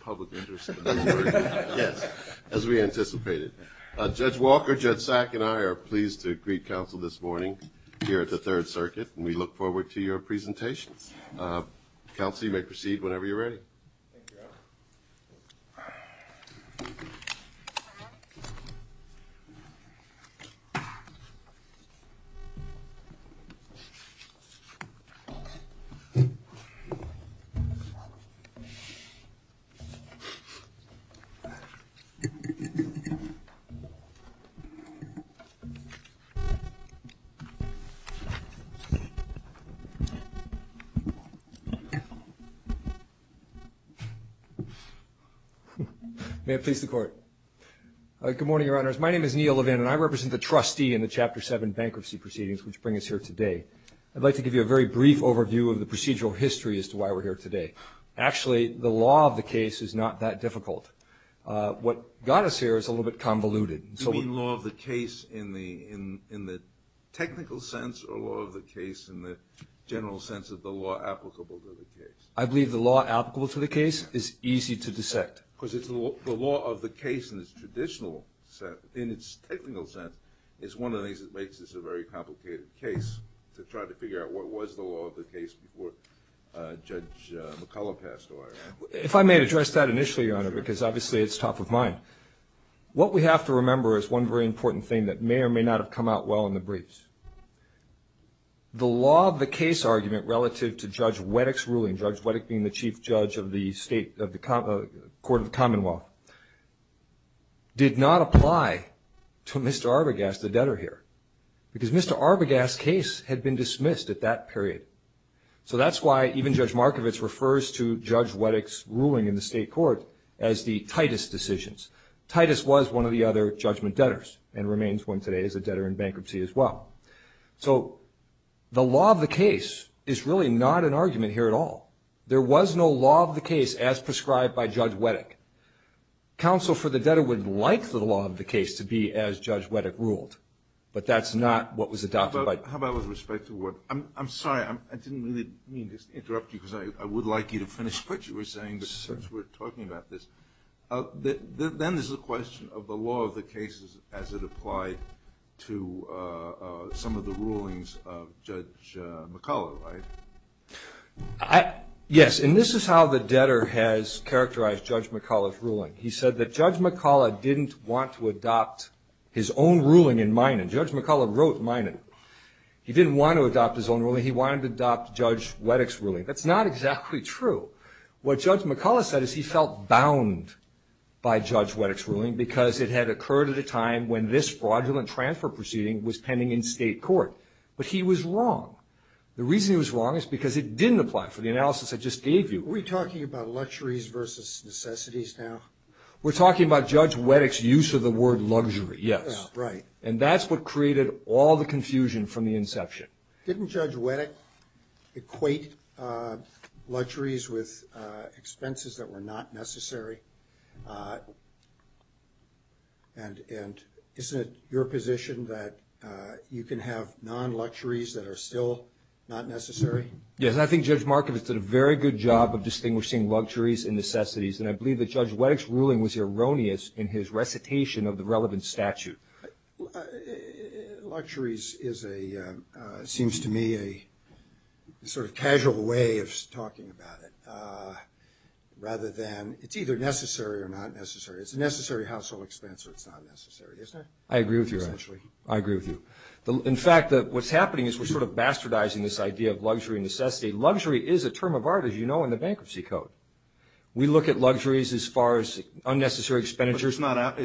public interest as we anticipated. Judge Walker, Judge Sack, and I are pleased to greet counsel this morning here at the Third Circuit. We look forward to your presentation. Counsel, you may proceed whenever you're ready. May it please the Court. Good morning, Your Honors. My name is Neil Levin and I represent the trustee in the Chapter 7 bankruptcy proceedings which bring us here today. I'd like to give you a very brief overview of the procedural history as to why we're here today. Actually, the law of the case is not that difficult. What got us here is a little bit convoluted. You mean law of the case in the technical sense or law of the case in the general sense of the law applicable to the case? I believe the law applicable to the case is easy to dissect. Because the law of the case in its traditional sense, in its technical sense, is one of the things that makes this a very complicated case to try to figure out what was the law of the case before Judge McCulloch passed away. If I may address that initially, Your Honor, because obviously it's top of mind. What we have to remember is one very important thing that may or may not have come out well in the briefs. The law of the case argument relative to Judge Wettick's ruling, Judge Wettick being the Chief Judge of the Court of the Commonwealth, did not apply to Mr. Arbogast, the debtor here. Because Mr. Arbogast's case had been dismissed at that period. So that's why even Judge Markovits refers to Judge Wettick's ruling in the state court as the Titus decisions. Titus was one of the other judgment debtors and remains one today as a debtor in bankruptcy as well. So the law of the case is really not an argument here at all. There was no law of the case as prescribed by Judge Wettick. Counsel for the debtor would like the law of the case to be as Judge Wettick ruled, but that's not what was adopted by Judge Wettick. I'm sorry, I didn't mean to interrupt you because I would like you to finish what you were saying since we're talking about this. Then there's the question of the law of the cases as it applied to some of the rulings of Judge McCullough, right? Yes, and this is how the debtor has characterized Judge McCullough's ruling. He said that Judge McCullough didn't want to adopt his own ruling in Minot. Judge McCullough wrote Minot. He didn't want to adopt his own ruling. He wanted to adopt Judge Wettick's ruling. That's not exactly true. What Judge McCullough said is he felt bound by Judge Wettick's ruling because it had occurred at a time when this fraudulent transfer proceeding was pending in state court. But he was wrong. The reason he was wrong is because it didn't apply for the analysis I just gave you. Are we talking about luxuries versus necessities now? We're talking about Judge Wettick's use of the word luxury, yes. Right. And that's what created all the confusion from the inception. Didn't Judge Wettick equate luxuries with expenses that were not necessary? And isn't it your position that you can have non-luxuries that are still not necessary? Yes, and I think Judge Markovitz did a very good job of distinguishing luxuries and necessities. And I believe that Judge Wettick's ruling was erroneous in his recitation of the relevant statute. Luxuries seems to me a sort of casual way of talking about it rather than it's either necessary or not necessary. It's a necessary household expense or it's not necessary, isn't it? I agree with you, actually. I agree with you. In fact, what's happening is we're sort of bastardizing this idea of luxury and necessity. Luxury is a term of art, as you know, in the bankruptcy code. We look at luxuries as far as unnecessary expenditures. But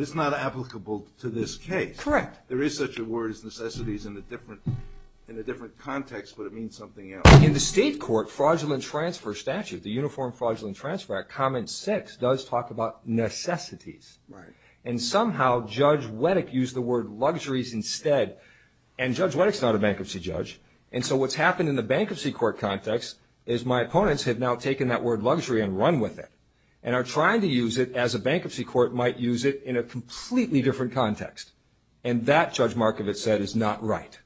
it's not applicable to this case. Correct. There is such a word as necessities in a different context, but it means something else. In the state court, fraudulent transfer statute, the Uniform Fraudulent Transfer Act, comment six, does talk about necessities. Right. And somehow Judge Wettick used the word luxuries instead. And Judge Wettick's not a bankruptcy judge. And so what's happened in the bankruptcy court context is my opponents have now taken that word luxury and run with it and are trying to use it as a bankruptcy court might use it in a completely different context. And that, Judge Markovitz said, is not right.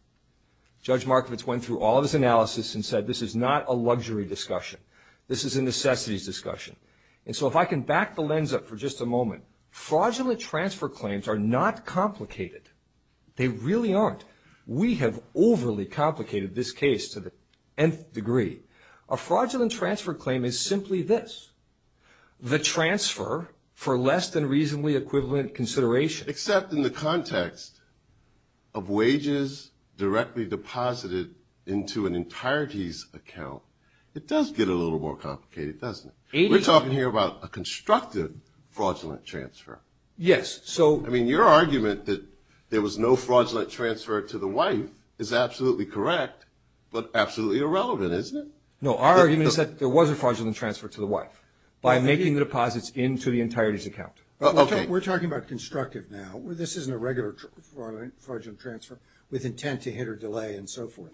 Judge Markovitz went through all this analysis and said this is not a luxury discussion. This is a necessities discussion. And so if I can back the lens up for just a moment, fraudulent transfer claims are not complicated. They really aren't. We have overly complicated this case to the nth degree. A fraudulent transfer claim is simply this, the transfer for less than reasonably equivalent consideration. Except in the context of wages directly deposited into an entirety's account. It does get a little more complicated, doesn't it? We're talking here about a constructive fraudulent transfer. Yes. I mean, your argument that there was no fraudulent transfer to the wife is absolutely correct, but absolutely irrelevant, isn't it? No, our argument is that there was a fraudulent transfer to the wife by making the deposits into the entirety's account. We're talking about constructive now. This isn't a regular fraudulent transfer with intent to hit or delay and so forth.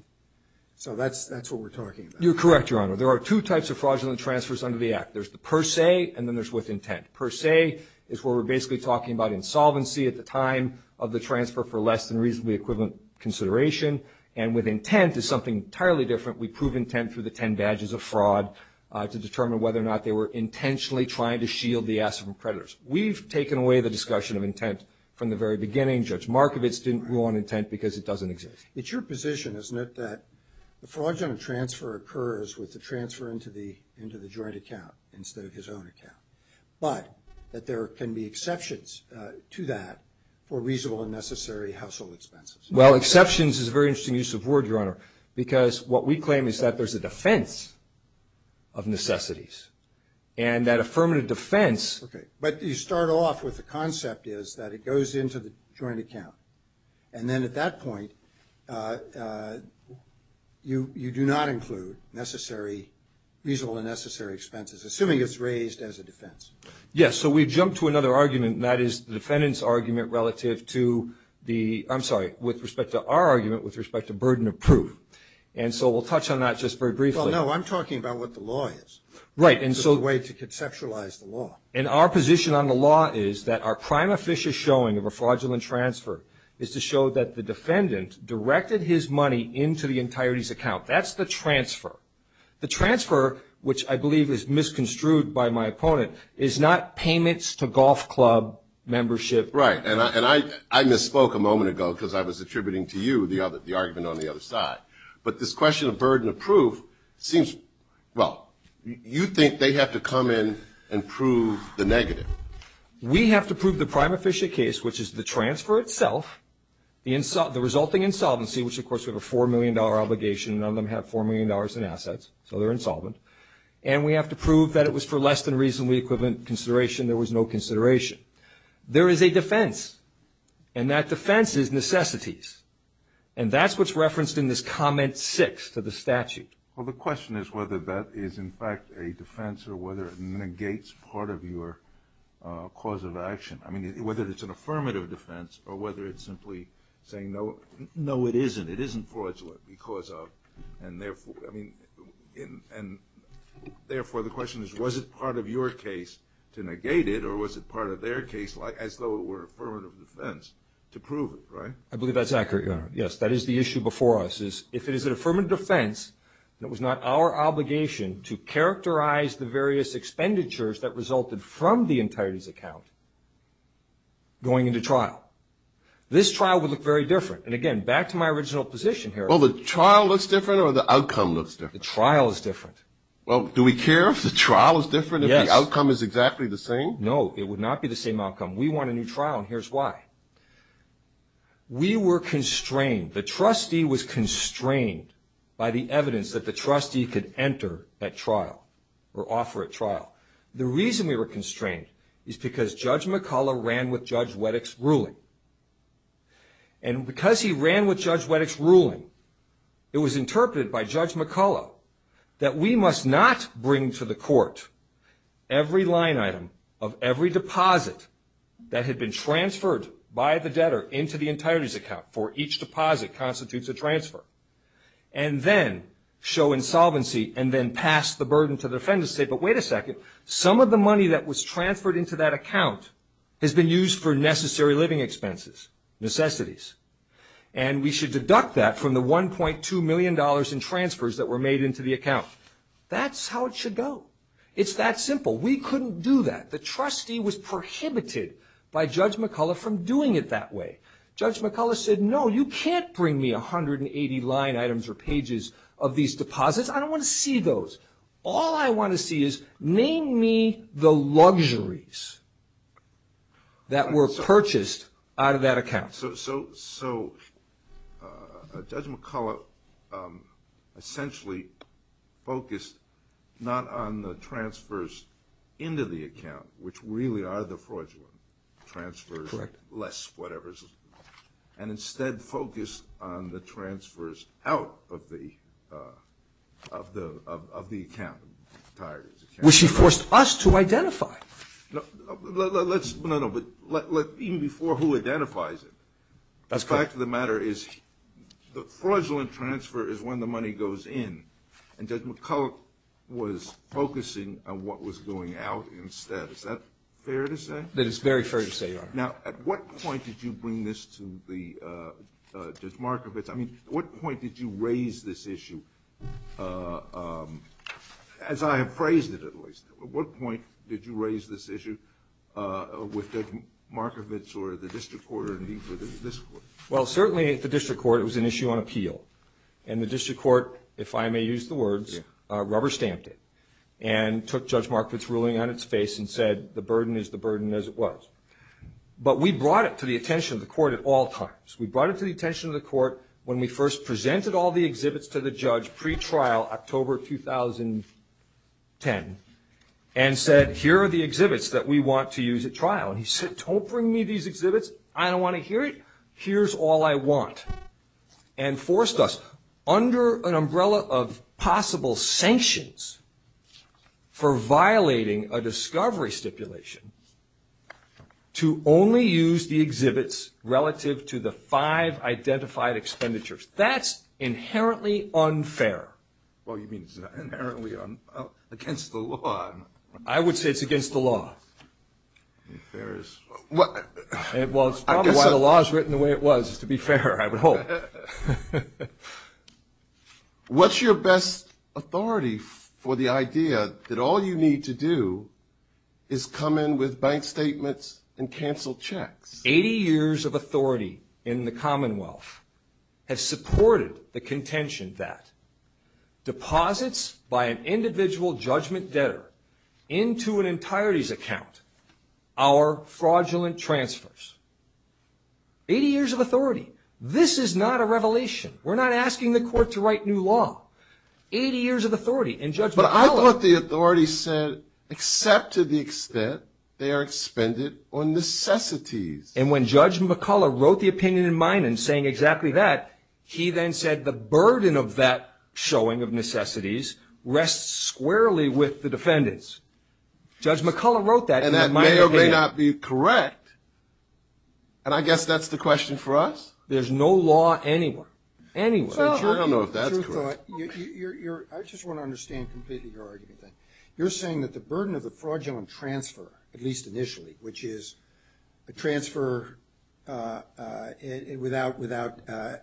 So that's what we're talking about. You're correct, Your Honor. There are two types of fraudulent transfers under the Act. There's the per se and then there's with intent. Per se is where we're basically talking about insolvency at the time of the transfer for less than reasonably equivalent consideration. And with intent is something entirely different. We prove intent through the ten badges of fraud to determine whether or not they were intentionally trying to shield the asset from predators. We've taken away the discussion of intent from the very beginning. Judge Markovits didn't rule on intent because it doesn't exist. It's your position, isn't it, that the fraudulent transfer occurs with the transfer into the joint account instead of his own account, but that there can be exceptions to that for reasonable and necessary household expenses. Well, exceptions is a very interesting use of words, Your Honor, because what we claim is that there's a defense of necessities. And that affirmative defense... Okay, but you start off with the concept is that it goes into the joint account. And then at that point, you do not include necessary, reasonable and necessary expenses, assuming it's raised as a defense. Yes, so we've jumped to another argument, and that is the defendant's argument relative to the... I'm sorry, with respect to our argument with respect to burden of proof. And so we'll touch on that just very briefly. Oh, no, I'm talking about what the law is. Right, and so... The way to conceptualize the law. And our position on the law is that our prime official showing of a fraudulent transfer is to show that the defendant directed his money into the entirety's account. That's the transfer. The transfer, which I believe is misconstrued by my opponent, is not payments to golf club membership. Right, and I misspoke a moment ago because I was attributing to you the argument on the other side. But this question of burden of proof seems... Well, you think they have to come in and prove the negative. We have to prove the prime official case, which is the transfer itself, the resulting insolvency, which, of course, we have a $4 million obligation. None of them have $4 million in assets, so they're insolvent. And we have to prove that it was for less than reasonably equivalent consideration. There was no consideration. There is a defense, and that defense is necessities. And that's what's referenced in this comment six to the statute. Well, the question is whether that is, in fact, a defense or whether it negates part of your cause of action. I mean, whether it's an affirmative defense or whether it's simply saying, no, it isn't. It isn't fraudulent because of... And, therefore, the question is, was it part of your case to negate it, or was it part of their case as though it were affirmative defense to prove it, right? I believe that's accurate. Yes, that is the issue before us, is if it is an affirmative defense, that was not our obligation to characterize the various expenditures that resulted from the entirety's account going into trial. This trial would look very different. And, again, back to my original position here. Well, the trial looks different or the outcome looks different? The trial is different. Well, do we care if the trial is different, if the outcome is exactly the same? No, it would not be the same outcome. We want a new trial, and here's why. We were constrained. The trustee was constrained by the evidence that the trustee could enter that trial or offer a trial. The reason we were constrained is because Judge McCullough ran with Judge Wettick's ruling. It was interpreted by Judge McCullough that we must not bring to the court every line item of every deposit that had been transferred by the debtor into the entirety's account, for each deposit constitutes a transfer, and then show insolvency and then pass the burden to the defendant and say, but wait a second, some of the money that was transferred into that account has been used for necessary living expenses, necessities. And we should deduct that from the $1.2 million in transfers that were made into the account. That's how it should go. It's that simple. We couldn't do that. The trustee was prohibited by Judge McCullough from doing it that way. Judge McCullough said, no, you can't bring me 180 line items or pages of these deposits. I don't want to see those. All I want to see is name me the luxuries that were purchased out of that account. So Judge McCullough essentially focused not on the transfers into the account, which really are the fraudulent transfers, less whatever, and instead focused on the transfers out of the account. Which he forced us to identify. Even before who identifies it, the fact of the matter is the fraudulent transfer is when the money goes in, and Judge McCullough was focusing on what was going out instead. Is that fair to say? That is very fair to say, Your Honor. Now, at what point did you bring this to Judge Markovitz? I mean, at what point did you raise this issue? As I appraised it, at least. At what point did you raise this issue with Judge Markovitz or the district court? Well, certainly at the district court it was an issue on appeal. And the district court, if I may use the words, rubber stamped it and took Judge Markovitz's ruling on its face and said the burden is the burden as it was. But we brought it to the attention of the court at all times. We brought it to the attention of the court when we first presented all the exhibits to the judge pre-trial October 2010 and said, here are the exhibits that we want to use at trial. And he said, don't bring me these exhibits. I don't want to hear it. Here's all I want. And forced us, under an umbrella of possible sanctions for violating a discovery stipulation, to only use the exhibits relative to the five identified expenditures. That's inherently unfair. Well, you mean it's inherently against the law. I would say it's against the law. Well, it's probably why the law is written the way it was, to be fair, I would hope. What's your best authority for the idea that all you need to do is come in with bank statements and cancel checks? Eighty years of authority in the Commonwealth has supported the contention that deposits by an individual judgment debtor into an entirety's account are fraudulent transfers. Eighty years of authority. This is not a revelation. We're not asking the court to write new law. Eighty years of authority. But I thought the authority said, except to the extent they are expended on necessities. And when Judge McCullough wrote the opinion in Minun saying exactly that, he then said the burden of that showing of necessities rests squarely with the defendants. Judge McCullough wrote that. And that may or may not be correct. And I guess that's the question for us? There's no law anywhere. I don't know if that's right. I just want to understand completely your argument. You're saying that the burden of the fraudulent transfer, at least initially, which is a transfer without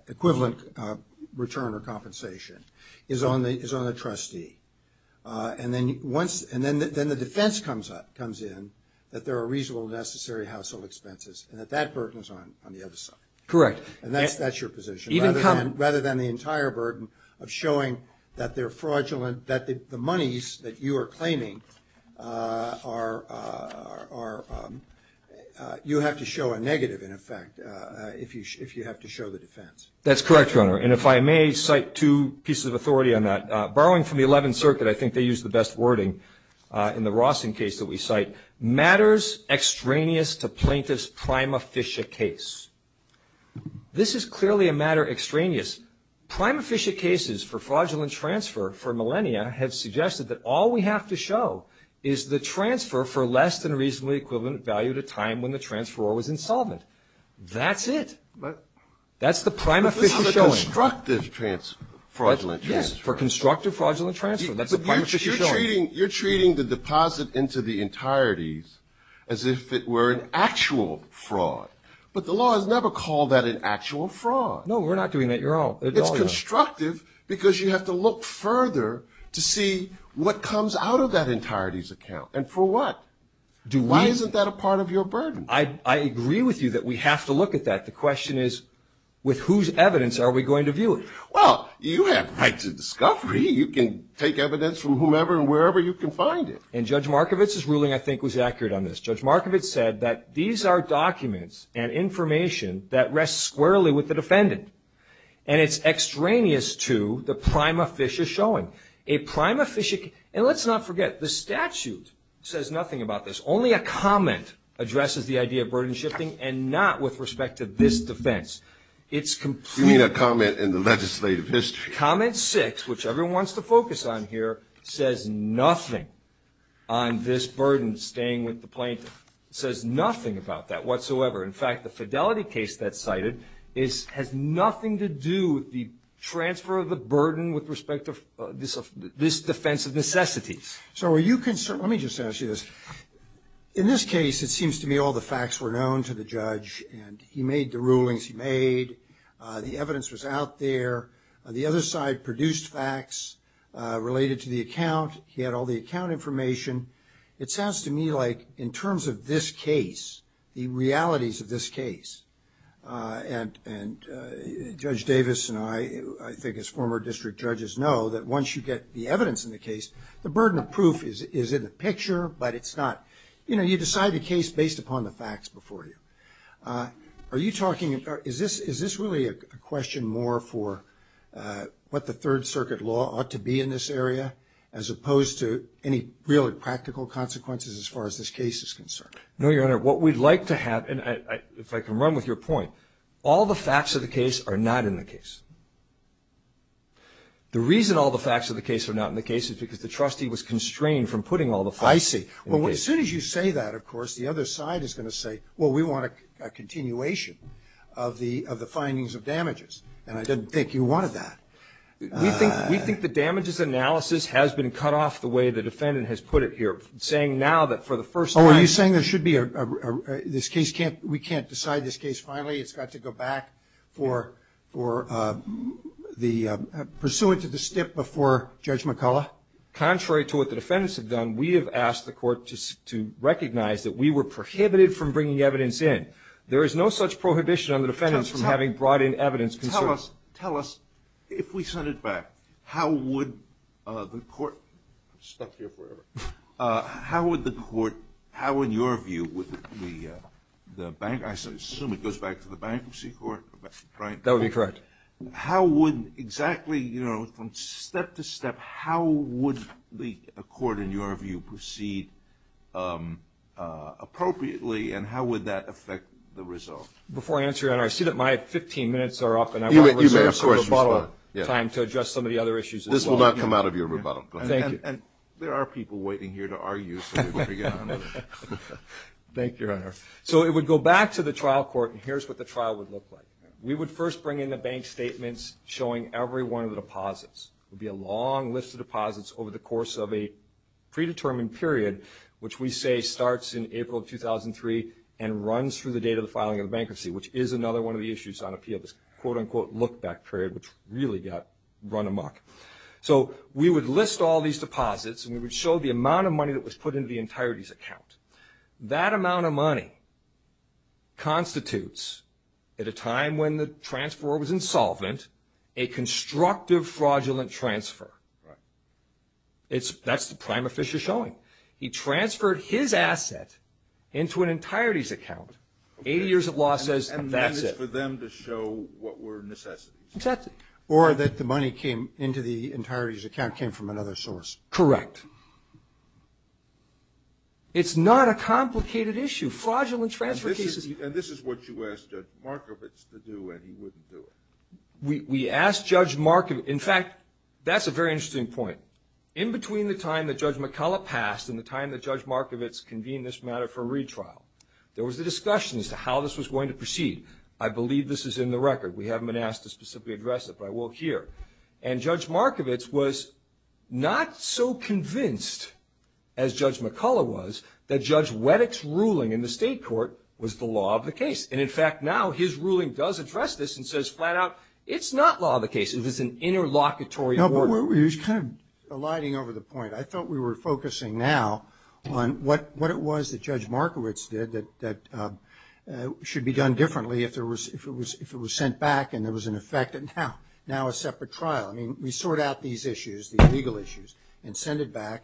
equivalent return or compensation, is on the trustee. And then the defense comes in that there are reasonable necessary household expenses and that that burden is on the other side. Correct. And that's your position. Rather than the entire burden of showing that they're fraudulent, that the monies that you are claiming are you have to show a negative, in effect, if you have to show the defense. That's correct, Your Honor. And if I may cite two pieces of authority on that. Borrowing from the Eleventh Circuit, I think they used the best wording in the Rawson case that we cite. Matters extraneous to plaintiff's prima ficia case. This is clearly a matter extraneous. Prima ficia cases for fraudulent transfer for millennia have suggested that all we have to show is the transfer for less than reasonably equivalent value to time when the transferor was insolvent. That's it. That's the prima ficia showing. For constructive fraudulent transfer. Yes, for constructive fraudulent transfer. That's the prima ficia showing. You're treating the deposit into the entireties as if it were an actual fraud. But the law has never called that an actual fraud. No, we're not doing that, Your Honor. It's constructive because you have to look further to see what comes out of that entireties account. And for what? Why isn't that a part of your burden? I agree with you that we have to look at that. The question is, with whose evidence are we going to view it? Well, you have right to discovery. You can take evidence from whomever and wherever you can find it. And Judge Markovitz's ruling, I think, was accurate on this. Judge Markovitz said that these are documents and information that rests squarely with the defendant. And it's extraneous to the prima ficia showing. A prima ficia case. And let's not forget, the statute says nothing about this. Only a comment addresses the idea of burden shifting and not with respect to this defense. You mean a comment in the legislative history. Comment 6, which everyone wants to focus on here, says nothing on this burden staying with the plaintiff. It says nothing about that whatsoever. In fact, the fidelity case that's cited has nothing to do with the transfer of the burden with respect to this defense of necessity. So are you concerned? Let me just ask you this. In this case, it seems to me all the facts were known to the judge. And he made the rulings he made. The evidence was out there. The other side produced facts related to the account. He had all the account information. It sounds to me like in terms of this case, the realities of this case, and Judge Davis and I, I think as former district judges, know that once you get the evidence in the case, the burden of proof is in the picture, but it's not. You know, you decide the case based upon the facts before you. Are you talking, is this really a question more for what the Third Circuit law ought to be in this area as opposed to any real or practical consequences as far as this case is concerned? No, Your Honor. What we'd like to have, and if I can run with your point, all the facts of the case are not in the case. The reason all the facts of the case are not in the case is because the trustee was constrained from putting all the facts in the case. I see. Well, as soon as you say that, of course, the other side is going to say, well, we want a continuation of the findings of damages. And I didn't think you wanted that. We think the damages analysis has been cut off the way the defendant has put it here, saying now that for the first time. Oh, are you saying there should be a, this case can't, we can't decide this case finally. It's got to go back for the pursuance of the stip before Judge McCullough? Contrary to what the defendants have done, we have asked the court to recognize that we were prohibited from bringing evidence in. There is no such prohibition on the defendants from having brought in evidence. Tell us, if we turn it back, how would the court, step here for a minute, how would the court, how would your view with the bankruptcy, I assume it goes back to the bankruptcy court, right? That would be correct. How would exactly, you know, from step to step, how would the court in your view proceed appropriately and how would that affect the result? Before I answer, your Honor, I see that my 15 minutes are up. You may have questions. Time to address some of the other issues. This will not come out of your rebuttal. There are people waiting here to argue. Thank you, your Honor. So it would go back to the trial court, and here's what the trial would look like. We would first bring in the bank statements showing every one of the deposits. It would be a long list of deposits over the course of a predetermined period, which we say starts in April of 2003 and runs through the date of the filing of the bankruptcy, which is another one of the issues on appeal, this quote-unquote look-back period, which really got run amok. So we would list all these deposits, and we would show the amount of money that was put into the entirety's account. That amount of money constitutes, at a time when the transfer was insolvent, a constructive fraudulent transfer. That's the prime officer showing. He transferred his asset into an entirety's account. Eight years of law says that's it. And that is for them to show what were necessities. Exactly. Or that the money came into the entirety's account came from another source. Correct. It's not a complicated issue. Fraudulent transfer cases. And this is what you asked Judge Markovitz to do, and he wouldn't do it. We asked Judge Markovitz. In fact, that's a very interesting point. In between the time that Judge McCullough passed and the time that Judge Markovitz convened this matter for retrial, there was a discussion as to how this was going to proceed. I believe this is in the record. We haven't been asked to specifically address it, but I will here. And Judge Markovitz was not so convinced, as Judge McCullough was, that Judge Weddick's ruling in the state court was the law of the case. And, in fact, now his ruling does address this and says flat out it's not law of the case. It was an interlocutory order. It was kind of alighting over the point. I felt we were focusing now on what it was that Judge Markovitz did that should be done differently if it was sent back and there was an effect and now a separate trial. I mean, we sort out these issues, these legal issues, and send it back,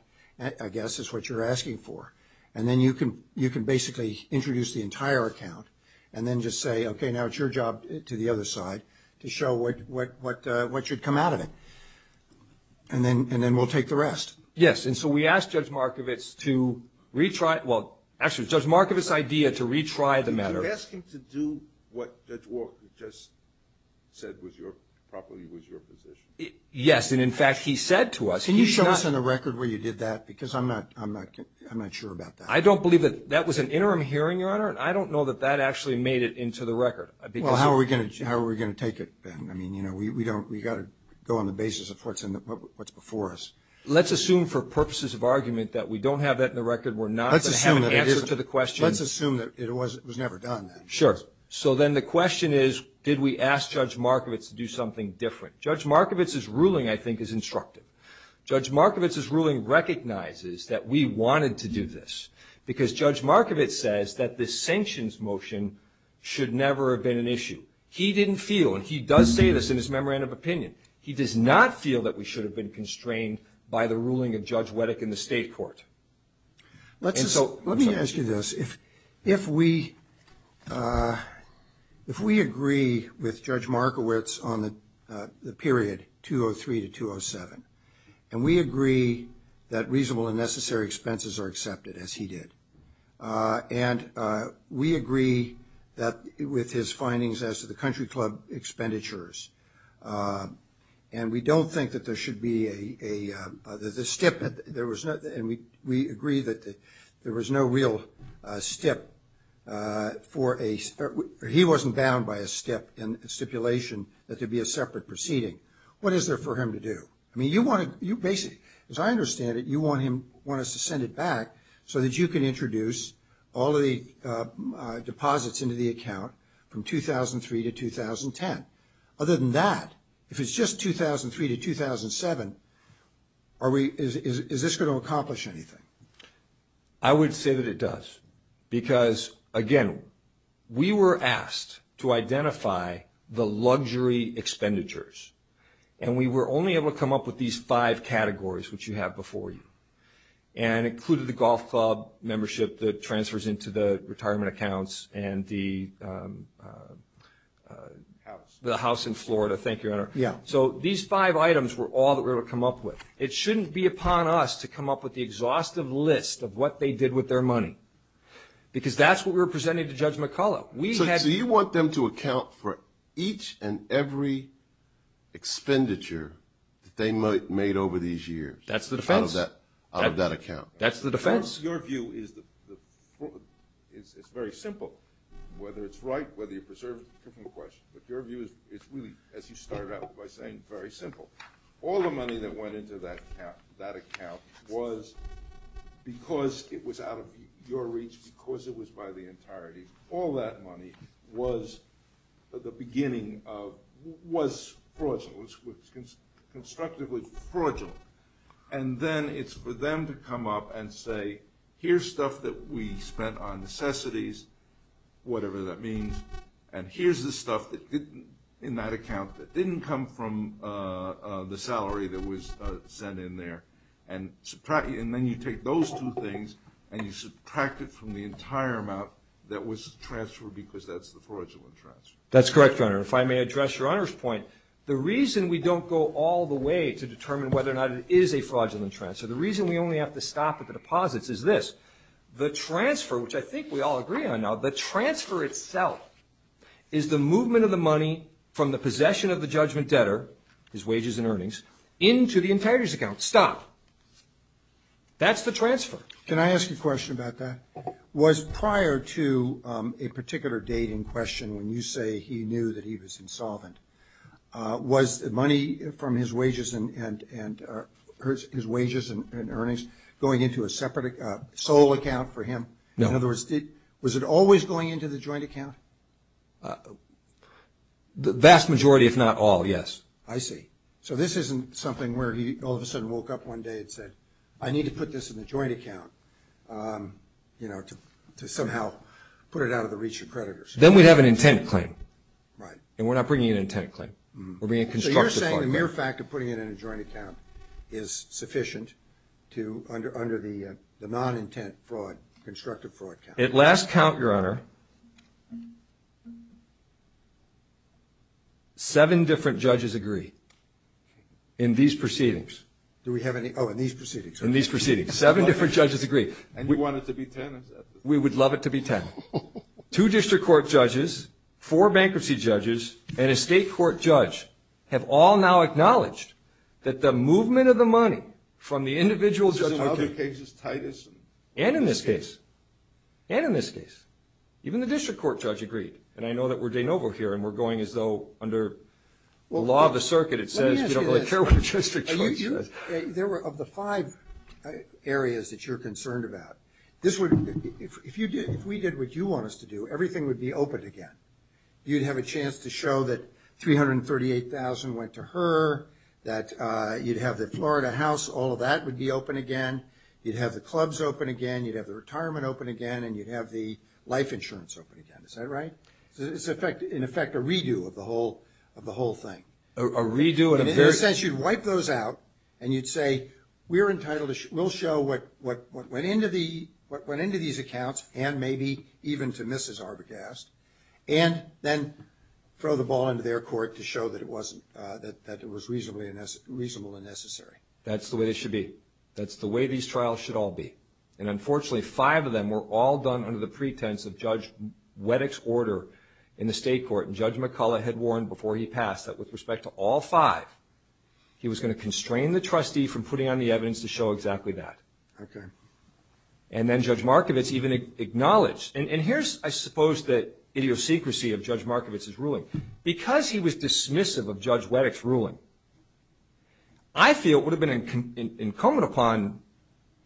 I guess, is what you're asking for. And then you can basically introduce the entire account and then just say, okay, now it's your job to the other side to show what should come out of it, and then we'll take the rest. Yes, and so we asked Judge Markovitz to retry it. Well, actually, Judge Markovitz's idea to retry the matter. You could have asked him to do what Judge Walker just said was your property, was your position. Yes, and, in fact, he said to us. Can you show us on the record where you did that? Because I'm not sure about that. I don't believe that that was an interim hearing, Your Honor, and I don't know that that actually made it into the record. Well, how are we going to take it then? I mean, you know, we've got to go on the basis of what's before us. Let's assume for purposes of argument that we don't have that in the record. We're not going to have an answer to the question. Let's assume that it was never done. Sure. So then the question is, did we ask Judge Markovitz to do something different? Judge Markovitz's ruling, I think, is instructive. Judge Markovitz's ruling recognizes that we wanted to do this because Judge Markovitz says that this sanctions motion should never have been an issue. He didn't feel, and he does say this in his memorandum of opinion, he does not feel that we should have been constrained by the ruling of Judge Wettig in the state court. And so let me ask you this. If we agree with Judge Markovitz on the period 203 to 207, and we agree that reasonable and necessary expenses are accepted, as he did, and we agree with his findings as to the country club expenditures, and we don't think that there should be a stip, and we agree that there was no real stip for a ‑‑ he wasn't bound by a stipulation that there be a separate proceeding. What is there for him to do? I mean, you basically, as I understand it, you want us to send it back so that you can introduce all the deposits into the account from 2003 to 2010. Other than that, if it's just 2003 to 2007, is this going to accomplish anything? I would say that it does, because, again, we were asked to identify the luxury expenditures, and we were only able to come up with these five categories, which you have before you, and included the golf club membership that transfers into the retirement accounts and the house in Florida. Thank you, Your Honor. So these five items were all that we were able to come up with. It shouldn't be upon us to come up with the exhaustive list of what they did with their money, because that's what we were presenting to Judge McCullough. So you want them to account for each and every expenditure that they made over these years? That's the defense. Out of that account. That's the defense. Your view is very simple, whether it's right, whether you preserve it is a different question. But your view is really, as you stare out, by saying very simple. All the money that went into that account was because it was out of your reach, because it was by the entirety. All that money was, at the beginning, was fraudulent, was constructively fraudulent. And then it's for them to come up and say, here's stuff that we spent on necessities, whatever that means, and here's the stuff in that account that didn't come from the salary that was sent in there. And then you take those two things and you subtract it from the entire amount that was transferred, because that's the fraudulent transfer. That's correct, Your Honor. If I may address Your Honor's point. The reason we don't go all the way to determine whether or not it is a fraudulent transfer, the reason we only have to stop at the deposits is this. The transfer, which I think we all agree on now, the transfer itself is the movement of the money from the possession of the judgment debtor, his wages and earnings, into the integrity account. Stop. That's the transfer. Can I ask a question about that? Was prior to a particular date in question, when you say he knew that he was insolvent, was money from his wages and earnings going into a separate sole account for him? No. In other words, was it always going into the joint account? The vast majority, if not all, yes. I see. So this isn't something where he all of a sudden woke up one day and said, I need to put this in a joint account, you know, to somehow put it out of the reach of creditors. Then we'd have an intent claim. Right. And we're not bringing an intent claim. We're bringing a constructive claim. So you're saying the mere fact of putting it in a joint account is sufficient to, under the non-intent fraud, constructive fraud count? At last count, Your Honor, seven different judges agree in these proceedings. Do we have any? Oh, in these proceedings. In these proceedings. Seven different judges agree. And you want it to be 10? We would love it to be 10. Two district court judges, four bankruptcy judges, and a state court judge have all now acknowledged that the movement of the money from the individual judge. In other cases, Titus. And in this case. And in this case. Even the district court judge agreed. And I know that we're de novo here and we're going as though under the law of the circuit, it says you don't really care what your district judge said. There were of the five areas that you're concerned about, if we did what you want us to do, everything would be open again. You'd have a chance to show that $338,000 went to her, that you'd have the Florida house, all of that would be open again. You'd have the clubs open again. You'd have the retirement open again. And you'd have the life insurance open again. Is that right? In effect, a redo of the whole thing. A redo? In a sense, you'd wipe those out and you'd say we're entitled to show what went into these accounts and maybe even to Mrs. Arbogast. And then throw the ball into their court to show that it was reasonable and necessary. That's the way it should be. That's the way these trials should all be. And unfortunately, five of them were all done under the pretense of Judge Wettick's order in the state court. And Judge McCullough had warned before he passed that with respect to all five, he was going to constrain the trustee from putting on the evidence to show exactly that. Okay. And then Judge Markovitz even acknowledged. And here's, I suppose, the idiosyncrasy of Judge Markovitz's ruling. Because he was dismissive of Judge Wettick's ruling, I feel it would have been incumbent upon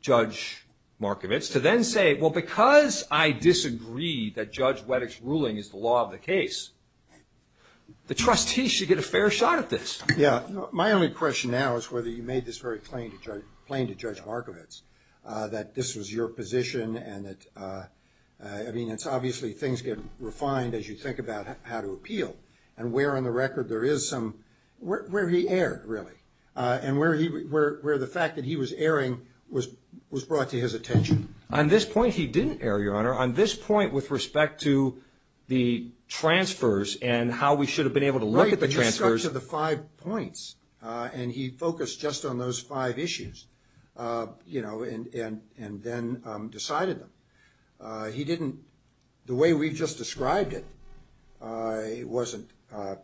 Judge Markovitz to then say, well, because I disagree that Judge Wettick's ruling is the law of the case, the trustee should get a fair shot at this. Yeah. My only question now is whether you made this very plain to Judge Markovitz, that this was your position. I mean, it's obviously things get refined as you think about how to appeal. And where on the record there is some – where did he err, really? And where the fact that he was erring was brought to his attention? On this point, he didn't err, Your Honor. On this point with respect to the transfers and how we should have been able to look at the transfers. He stuck to the five points, and he focused just on those five issues, you know, and then decided them. He didn't – the way we just described it wasn't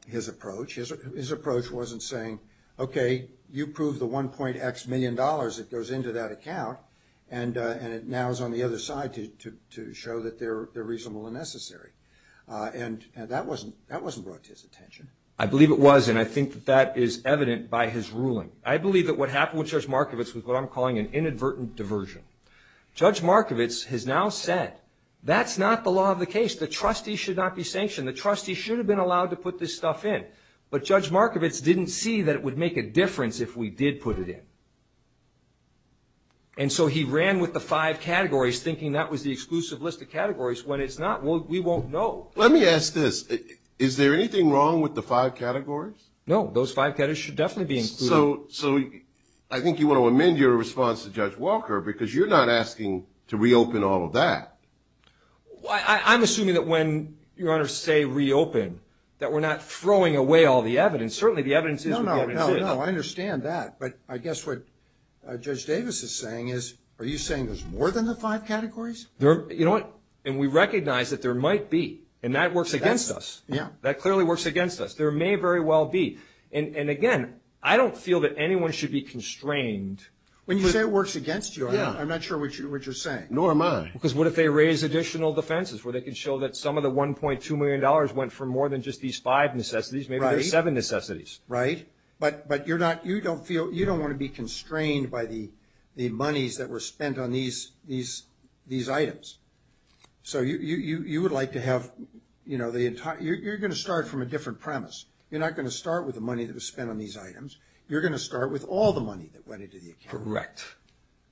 his approach. His approach wasn't saying, okay, you prove the 1.x million dollars that goes into that account, and it now is on the other side to show that they're reasonable and necessary. And that wasn't brought to his attention. I believe it was, and I think that that is evident by his ruling. I believe that what happened with Judge Markovitz was what I'm calling an inadvertent diversion. Judge Markovitz has now said, that's not the law of the case. The trustees should not be sanctioned. The trustees should have been allowed to put this stuff in. But Judge Markovitz didn't see that it would make a difference if we did put it in. And so he ran with the five categories, thinking that was the exclusive list of categories. When it's not, we won't know. Let me ask this. Is there anything wrong with the five categories? No, those five categories should definitely be included. So I think you want to amend your response to Judge Walker, because you're not asking to reopen all of that. I'm assuming that when Your Honor say reopen, that we're not throwing away all the evidence. Certainly the evidence is what we already did. No, no, no, I understand that. But I guess what Judge Davis is saying is, are you saying there's more than the five categories? You know what? And we recognize that there might be. And that works against us. That clearly works against us. There may very well be. And, again, I don't feel that anyone should be constrained. But you say it works against you. I'm not sure what you're saying. Nor am I. Because what if they raise additional defenses, where they can show that some of the $1.2 million went for more than just these five necessities. Maybe there's seven necessities. Right. But you don't want to be constrained by the monies that were spent on these items. So you would like to have, you know, you're going to start from a different premise. You're not going to start with the money that was spent on these items. You're going to start with all the money that went into the account. Correct.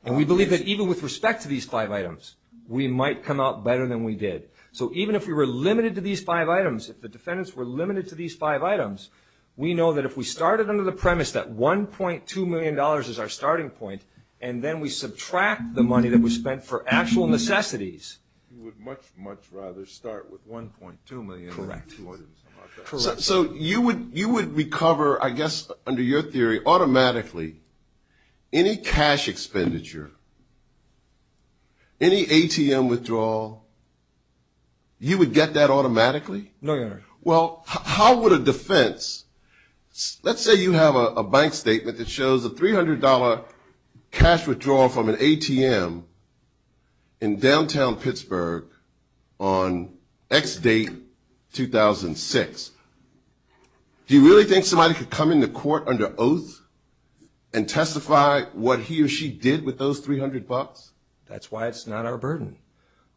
And we believe that even with respect to these five items, we might come out better than we did. So even if we were limited to these five items, if the defendants were limited to these five items, we know that if we started under the premise that $1.2 million is our starting point, and then we subtract the money that was spent for actual necessities. You would much, much rather start with $1.2 million. Correct. Correct. So you would recover, I guess under your theory, automatically any cash expenditure, any ATM withdrawal, you would get that automatically? No, Your Honor. Well, how would a defense, let's say you have a bank statement that shows a $300 cash withdrawal from an ATM in downtown Pittsburgh on X date 2006. Do you really think somebody could come into court under oath and testify what he or she did with those $300? That's why it's not our burden.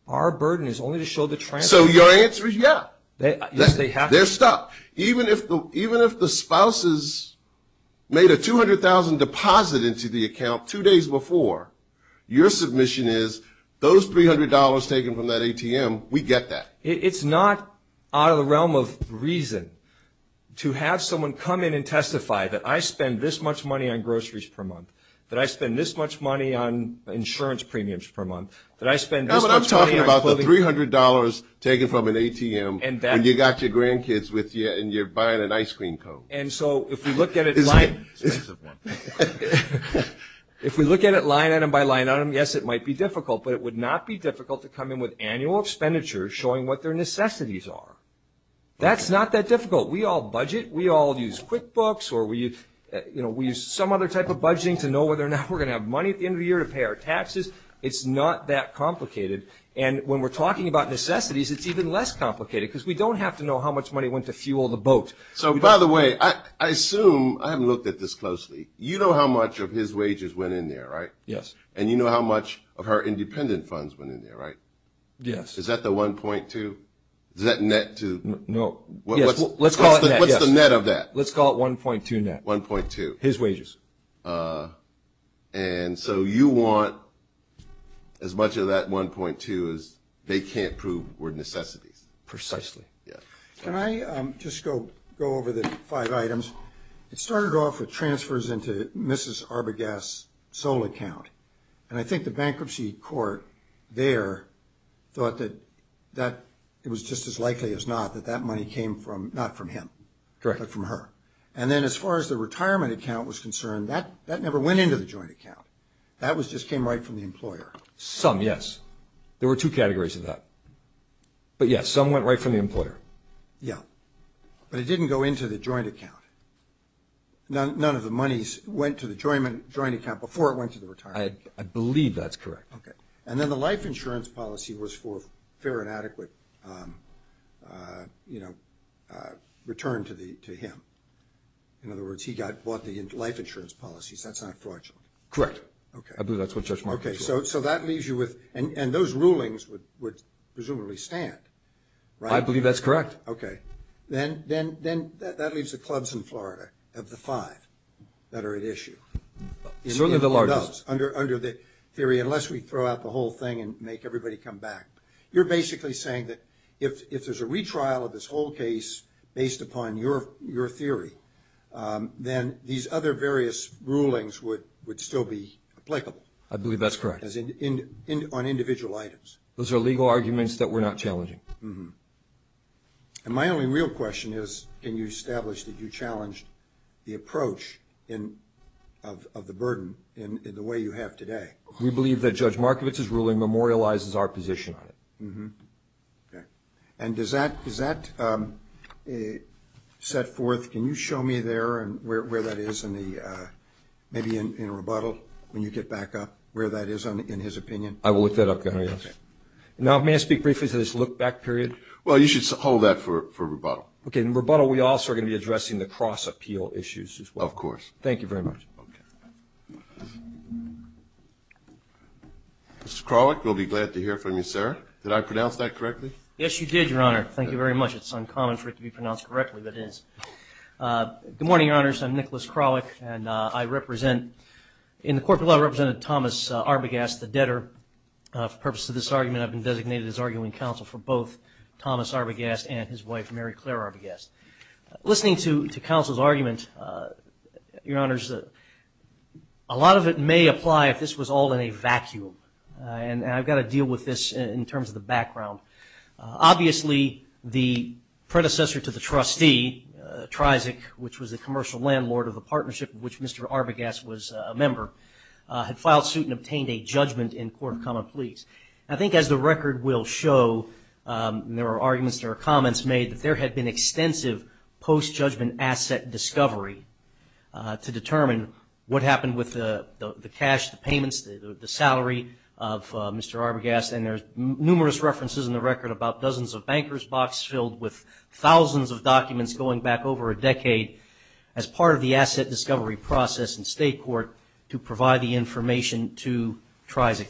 Our burden is only to show the transcript. So your answer is yes. They're stuck. Even if the spouses made a $200,000 deposit into the account two days before, your submission is those $300 taken from that ATM, we get that. It's not out of the realm of reason to have someone come in and testify that I spend this much money on groceries per month, that I spend this much money on insurance premiums per month, that I spend this much money on clothing. $300 taken from an ATM and you've got your grandkids with you and you're buying an ice cream cone. And so if we look at it line item by line item, yes, it might be difficult, but it would not be difficult to come in with annual expenditures showing what their necessities are. That's not that difficult. We all budget. We all use QuickBooks or we use some other type of budgeting to know whether or not we're going to have money at the end of the year to pay our taxes. It's not that complicated. And when we're talking about necessities, it's even less complicated, because we don't have to know how much money went to fuel the boat. So, by the way, I assume, I haven't looked at this closely, you know how much of his wages went in there, right? Yes. And you know how much of her independent funds went in there, right? Yes. Is that the 1.2? Is that net to? No. Let's call it net, yes. What's the net of that? Let's call it 1.2 net. 1.2. His wages. And so you want as much of that 1.2 as they can't prove were necessities. Precisely. Yes. Can I just go over the five items? It started off with transfers into Mrs. Arbogast's sole account. And I think the bankruptcy court there thought that it was just as likely as not that that money came not from him, directly from her. And then as far as the retirement account was concerned, that never went into the joint account. That just came right from the employer. Some, yes. There were two categories of that. But, yes, some went right from the employer. Yes. But it didn't go into the joint account. None of the monies went to the joint account before it went to the retirement account. I believe that's correct. Okay. And then the life insurance policy was for fair and adequate return to him. In other words, he bought the life insurance policies. That's not fraudulent. Correct. Okay. I believe that's what Judge Marcus said. Okay. So that leaves you with, and those rulings would presumably stand, right? I believe that's correct. Okay. Then that leaves the clubs in Florida of the five that are at issue. Under the theory, unless we throw out the whole thing and make everybody come back, you're basically saying that if there's a retrial of this whole case based upon your theory, then these other various rulings would still be applicable. I believe that's correct. On individual items. Those are legal arguments that we're not challenging. And my only real question is, can you establish that you challenged the approach of the burden in the way you have today? We believe that Judge Markowitz's ruling memorializes our position on it. Okay. And does that set forth, can you show me there and where that is in the, maybe in a rebuttal when you get back up, where that is in his opinion? I will look that up. Okay. Now, may I speak briefly to this look back period? Well, you should hold that for rebuttal. Okay. In rebuttal, we also are going to be addressing the cross-appeal issues as well. Of course. Thank you very much. Mr. Kralik, we'll be glad to hear from you, sir. Did I pronounce that correctly? Yes, you did, Your Honor. Thank you very much. It's uncommon for it to be pronounced correctly, but it is. Good morning, Your Honors. I'm Nicholas Kralik. And I represent, in the Court of Law, I represented Thomas Arbogast, the debtor. For the purpose of this argument, I've been designated as arguing counsel for both Thomas Arbogast and his wife, Mary Claire Arbogast. Listening to counsel's arguments, Your Honors, a lot of it may apply if this was all in a vacuum. And I've got to deal with this in terms of the background. Obviously, the predecessor to the trustee, Trizic, which was a commercial landlord of a partnership in which Mr. Arbogast was a member, had filed suit and obtained a judgment in court of common pleas. I think, as the record will show, there are arguments, there are comments made, that there had been extensive post-judgment asset discovery to determine what happened with the cash, the payments, the salary of Mr. Arbogast. And there's numerous references in the record about dozens of banker's box filled with thousands of documents going back over a decade as part of the asset discovery process in state court to provide the information to Trizic,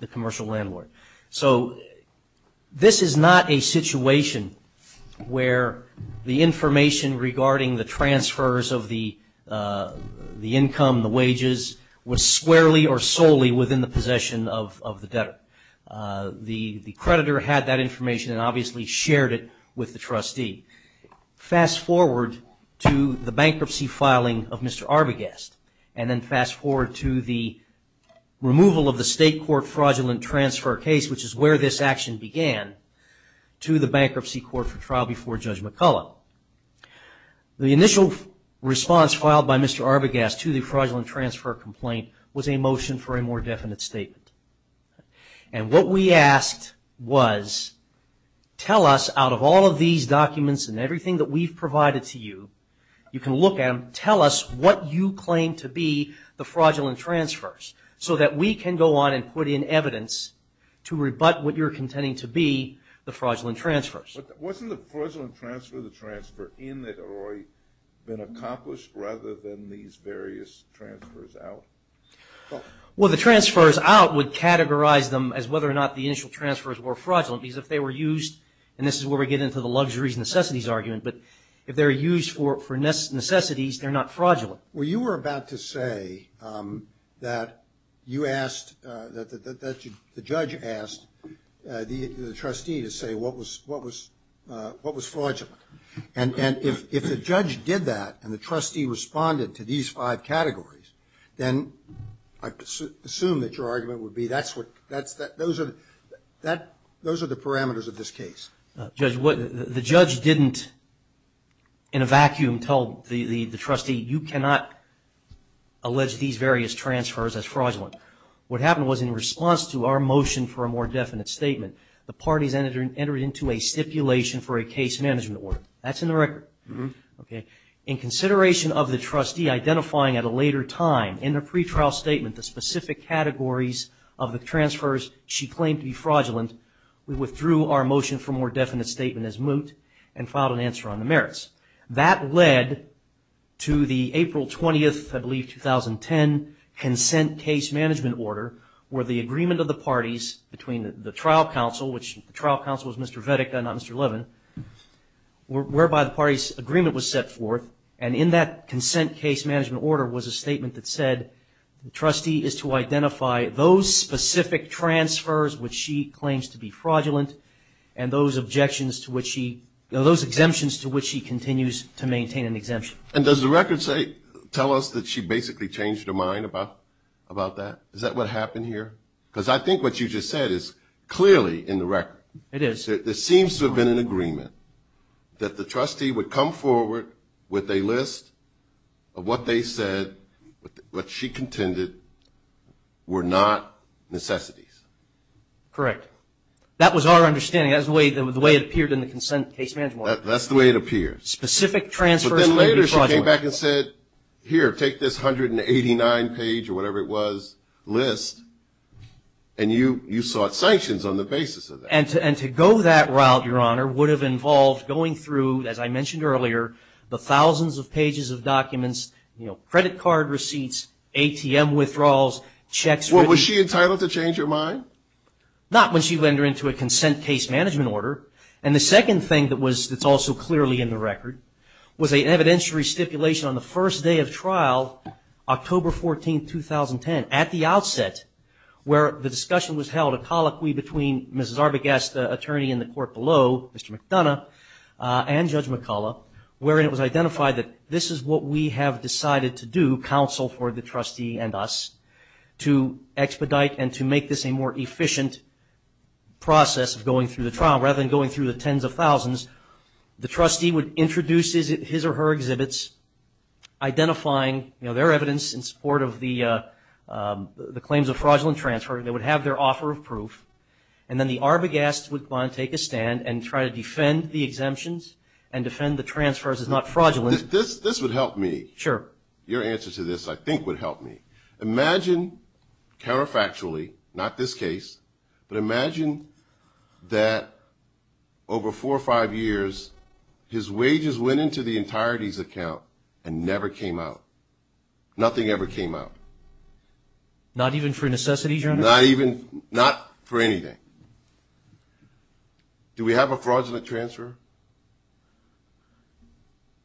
the commercial landlord. So, this is not a situation where the information regarding the transfers of the income, the wages, was squarely or solely within the possession of the debtor. The creditor had that information and obviously shared it with the trustee. Fast forward to the bankruptcy filing of Mr. Arbogast, and then fast forward to the removal of the state court fraudulent transfer case, which is where this action began, to the bankruptcy court for trial before Judge McCullough. The initial response filed by Mr. Arbogast to the fraudulent transfer complaint was a motion for a more definite statement. And what we asked was, tell us out of all of these documents and everything that we've provided to you, you can look at them, tell us what you claim to be the fraudulent transfers, so that we can go on and put in evidence to rebut what you're contending to be the fraudulent transfers. Wasn't the fraudulent transfer the transfer in that had already been accomplished, rather than these various transfers out? Well, the transfers out would categorize them as whether or not the initial transfers were fraudulent, because if they were used, and this is where we get into the luxuries and necessities argument, but if they're used for necessities, they're not fraudulent. Well, you were about to say that you asked, that the judge asked the trustee to say what was fraudulent. And if the judge did that, and the trustee responded to these five categories, then I assume that your argument would be those are the parameters of this case. The judge didn't, in a vacuum, tell the trustee, you cannot allege these various transfers as fraudulent. What happened was, in response to our motion for a more definite statement, the parties entered into a stipulation for a case management order. That's in the record. In consideration of the trustee identifying at a later time, in the pretrial statement, the specific categories of the transfers she claimed to be fraudulent, we withdrew our motion for a more definite statement as moot and filed an answer on the merits. That led to the April 20th, I believe, 2010 consent case management order, where the agreement of the parties between the trial counsel, which the trial counsel was Mr. Vedick, not Mr. Levin, whereby the parties' agreement was set forth, and in that consent case management order was a statement that said, the trustee is to identify those specific transfers which she claims to be fraudulent and those exemptions to which she continues to maintain an exemption. And does the record tell us that she basically changed her mind about that? Is that what happened here? Because I think what you just said is clearly in the record. It is. It seems to have been an agreement that the trustee would come forward with a list of what they said, what she contended, were not necessities. Correct. That was our understanding. That was the way it appeared in the consent case management order. That's the way it appeared. Specific transfers. But then later she came back and said, here, take this 189 page or whatever it was list, and you sought sanctions on the basis of that. And to go that route, Your Honor, would have involved going through, as I mentioned earlier, the thousands of pages of documents, credit card receipts, ATM withdrawals, checks. Was she entitled to change her mind? Not when she went into a consent case management order. And the second thing that's also clearly in the record was an evidentiary stipulation on the first day of trial, October 14, 2010, at the outset, where the discussion was held, a colloquy between Ms. Zarbagast, the attorney in the court below, Mr. McDonough, and Judge McCullough, where it was identified that this is what we have decided to do, counsel for the trustee and us, to expedite and to make this a more efficient process of going through the trial. Rather than going through the tens of thousands, the trustee would introduce his or her exhibits, identifying their evidence in support of the claims of fraudulent transfer. They would have their offer of proof. And then the Zarbagast would go on and take a stand and try to defend the exemptions and defend the transfers as not fraudulent. This would help me. Sure. Your answer to this, I think, would help me. Imagine counterfactually, not this case, but imagine that over four or five years, his wages went into the entirety of the account and never came out. Nothing ever came out. Not even for necessity? Not for anything. Do we have a fraudulent transfer?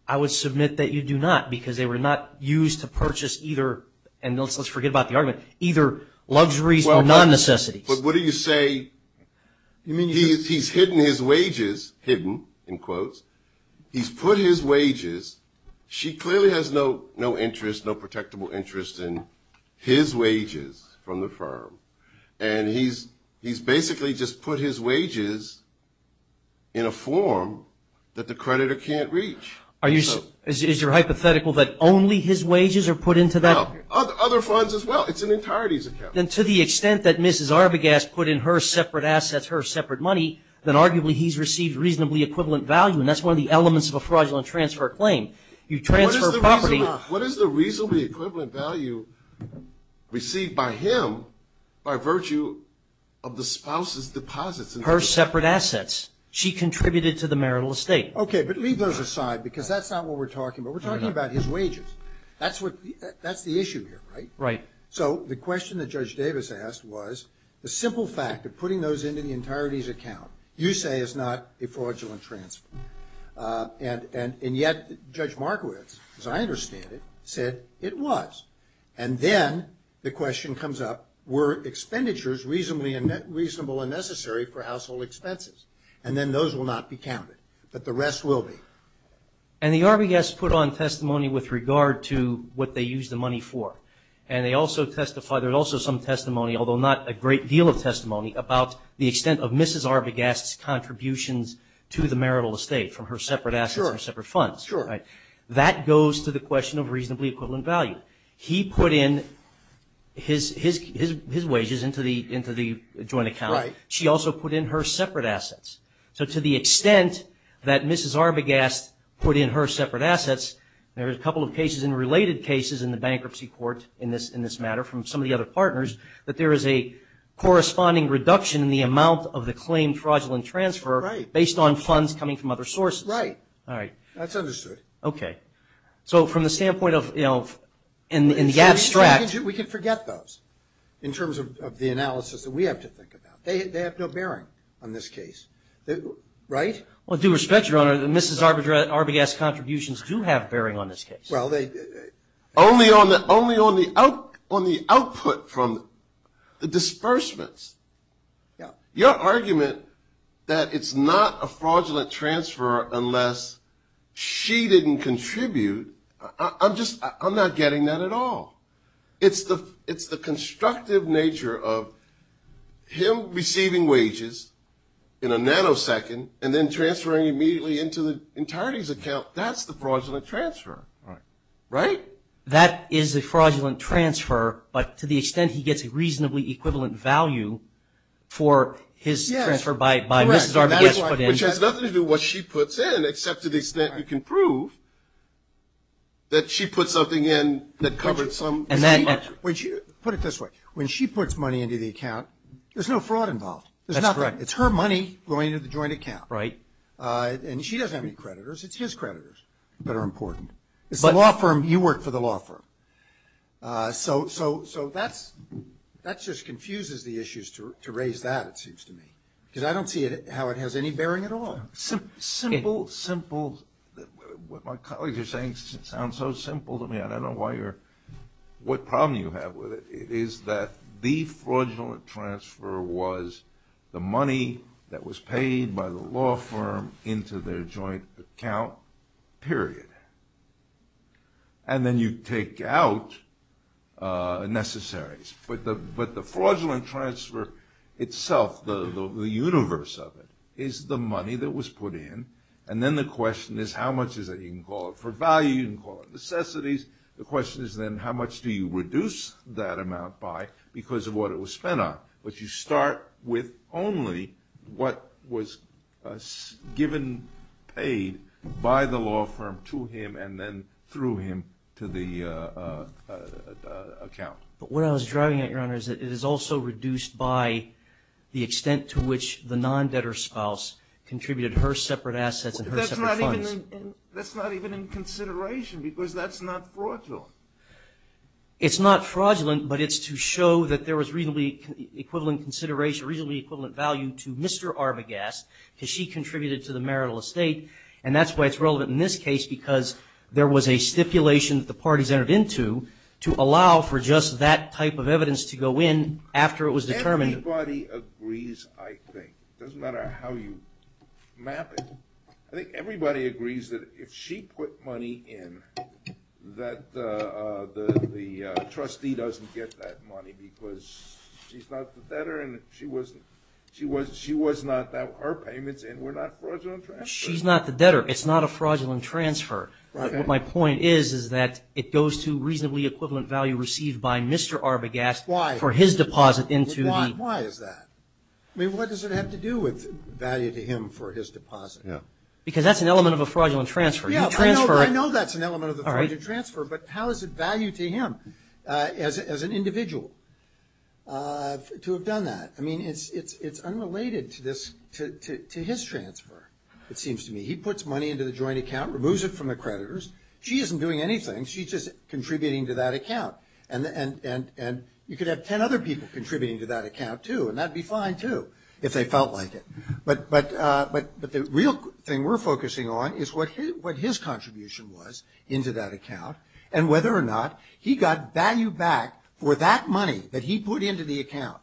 I would submit that you do not, because they were not used to purchase either, and let's forget about the argument, either luxuries or non-necessities. But what do you say, he's hidden his wages, hidden, in quotes. He's put his wages. She clearly has no interest, no protectable interest in his wages from the firm. And he's basically just put his wages in a form that the creditor can't reach. Is your hypothetical that only his wages are put into that? Other funds as well. It's in the entirety of his account. Then to the extent that Mrs. Arbogast put in her separate assets, her separate money, then arguably he's received reasonably equivalent value, and that's one of the elements of a fraudulent transfer claim. You transfer property. What is the reasonably equivalent value received by him by virtue of the spouse's deposits? Her separate assets. She contributed to the marital estate. Okay, but leave those aside, because that's not what we're talking about. We're talking about his wages. That's the issue here, right? Right. So the question that Judge Davis asked was the simple fact of putting those into the entirety of his account, you say is not a fraudulent transfer. And yet Judge Markowitz, as I understand it, said it was. And then the question comes up, were expenditures reasonable and necessary for household expenses? And then those will not be counted, but the rest will be. And the Arbogast put on testimony with regard to what they used the money for, and they also testify there's also some testimony, although not a great deal of testimony, about the extent of Mrs. Arbogast's contributions to the marital estate from her separate assets and separate funds. That goes to the question of reasonably equivalent value. He put in his wages into the joint account. She also put in her separate assets. So to the extent that Mrs. Arbogast put in her separate assets, there's a couple of cases and related cases in the bankruptcy court in this matter from some of the other partners, that there is a corresponding reduction in the amount of the claimed fraudulent transfer based on funds coming from other sources. Right. All right. That's understood. Okay. So from the standpoint of, you know, in the abstract. We could forget those in terms of the analysis that we have to think about. They have no bearing on this case, right? Well, due respect, Your Honor, Mrs. Arbogast's contributions do have bearing on this case. Well, only on the output from the disbursements. Your argument that it's not a fraudulent transfer unless she didn't contribute, I'm not getting that at all. It's the constructive nature of him receiving wages in a nanosecond and then transferring immediately into the entirety of his account. That's the fraudulent transfer. Right. Right? That is the fraudulent transfer, but to the extent he gets a reasonably equivalent value for his transfer by Mrs. Arbogast. Which has nothing to do with what she puts in, except to the extent you can prove that she put something in that covered some. Put it this way. When she puts money into the account, there's no fraud involved. That's correct. It's her money going into the joint account. Right. And she doesn't have any creditors. It's his creditors that are important. It's the law firm. You work for the law firm. So that just confuses the issues to raise that, it seems to me. Because I don't see how it has any bearing at all. Simple, simple. What my colleagues are saying sounds so simple to me. I don't know what problem you have with it. It is that the fraudulent transfer was the money that was paid by the law firm into their joint account, period. And then you take out necessaries. But the fraudulent transfer itself, the universe of it, is the money that was put in. And then the question is, how much is it? You can call it for value. You can call it necessities. The question is then, how much do you reduce that amount by because of what it was spent on? But you start with only what was given, paid by the law firm to him and then through him to the account. What I was driving at, Your Honor, is that it is also reduced by the extent to which the non-debtor spouse contributed her separate assets and her separate funds. That's not even in consideration because that's not fraudulent. It's not fraudulent, but it's to show that there was reasonably equivalent consideration, reasonably equivalent value to Mr. Arbogast because she contributed to the marital estate, and that's why it's relevant in this case because there was a stipulation that the parties entered into to allow for just that type of evidence to go in after it was determined. Everybody agrees, I think. It doesn't matter how you map it. I think everybody agrees that if she put money in, that the trustee doesn't get that money because she's not the debtor and she was not at her payments and we're not fraudulent transfers. She's not the debtor. It's not a fraudulent transfer. What my point is is that it goes to reasonably equivalent value received by Mr. Arbogast for his deposit into the… Why is that? I mean, what does it have to do with value to him for his deposit? Because that's an element of a fraudulent transfer. I know that's an element of a fraudulent transfer, but how is it valued to him as an individual to have done that? I mean, it's unrelated to his transfer, it seems to me. He puts money into the joint account, removes it from the creditors. She isn't doing anything. She's just contributing to that account. And you could have 10 other people contributing to that account, too, and that'd be fine, too, if they felt like it. But the real thing we're focusing on is what his contribution was into that account and whether or not he got value back with that money that he put into the account,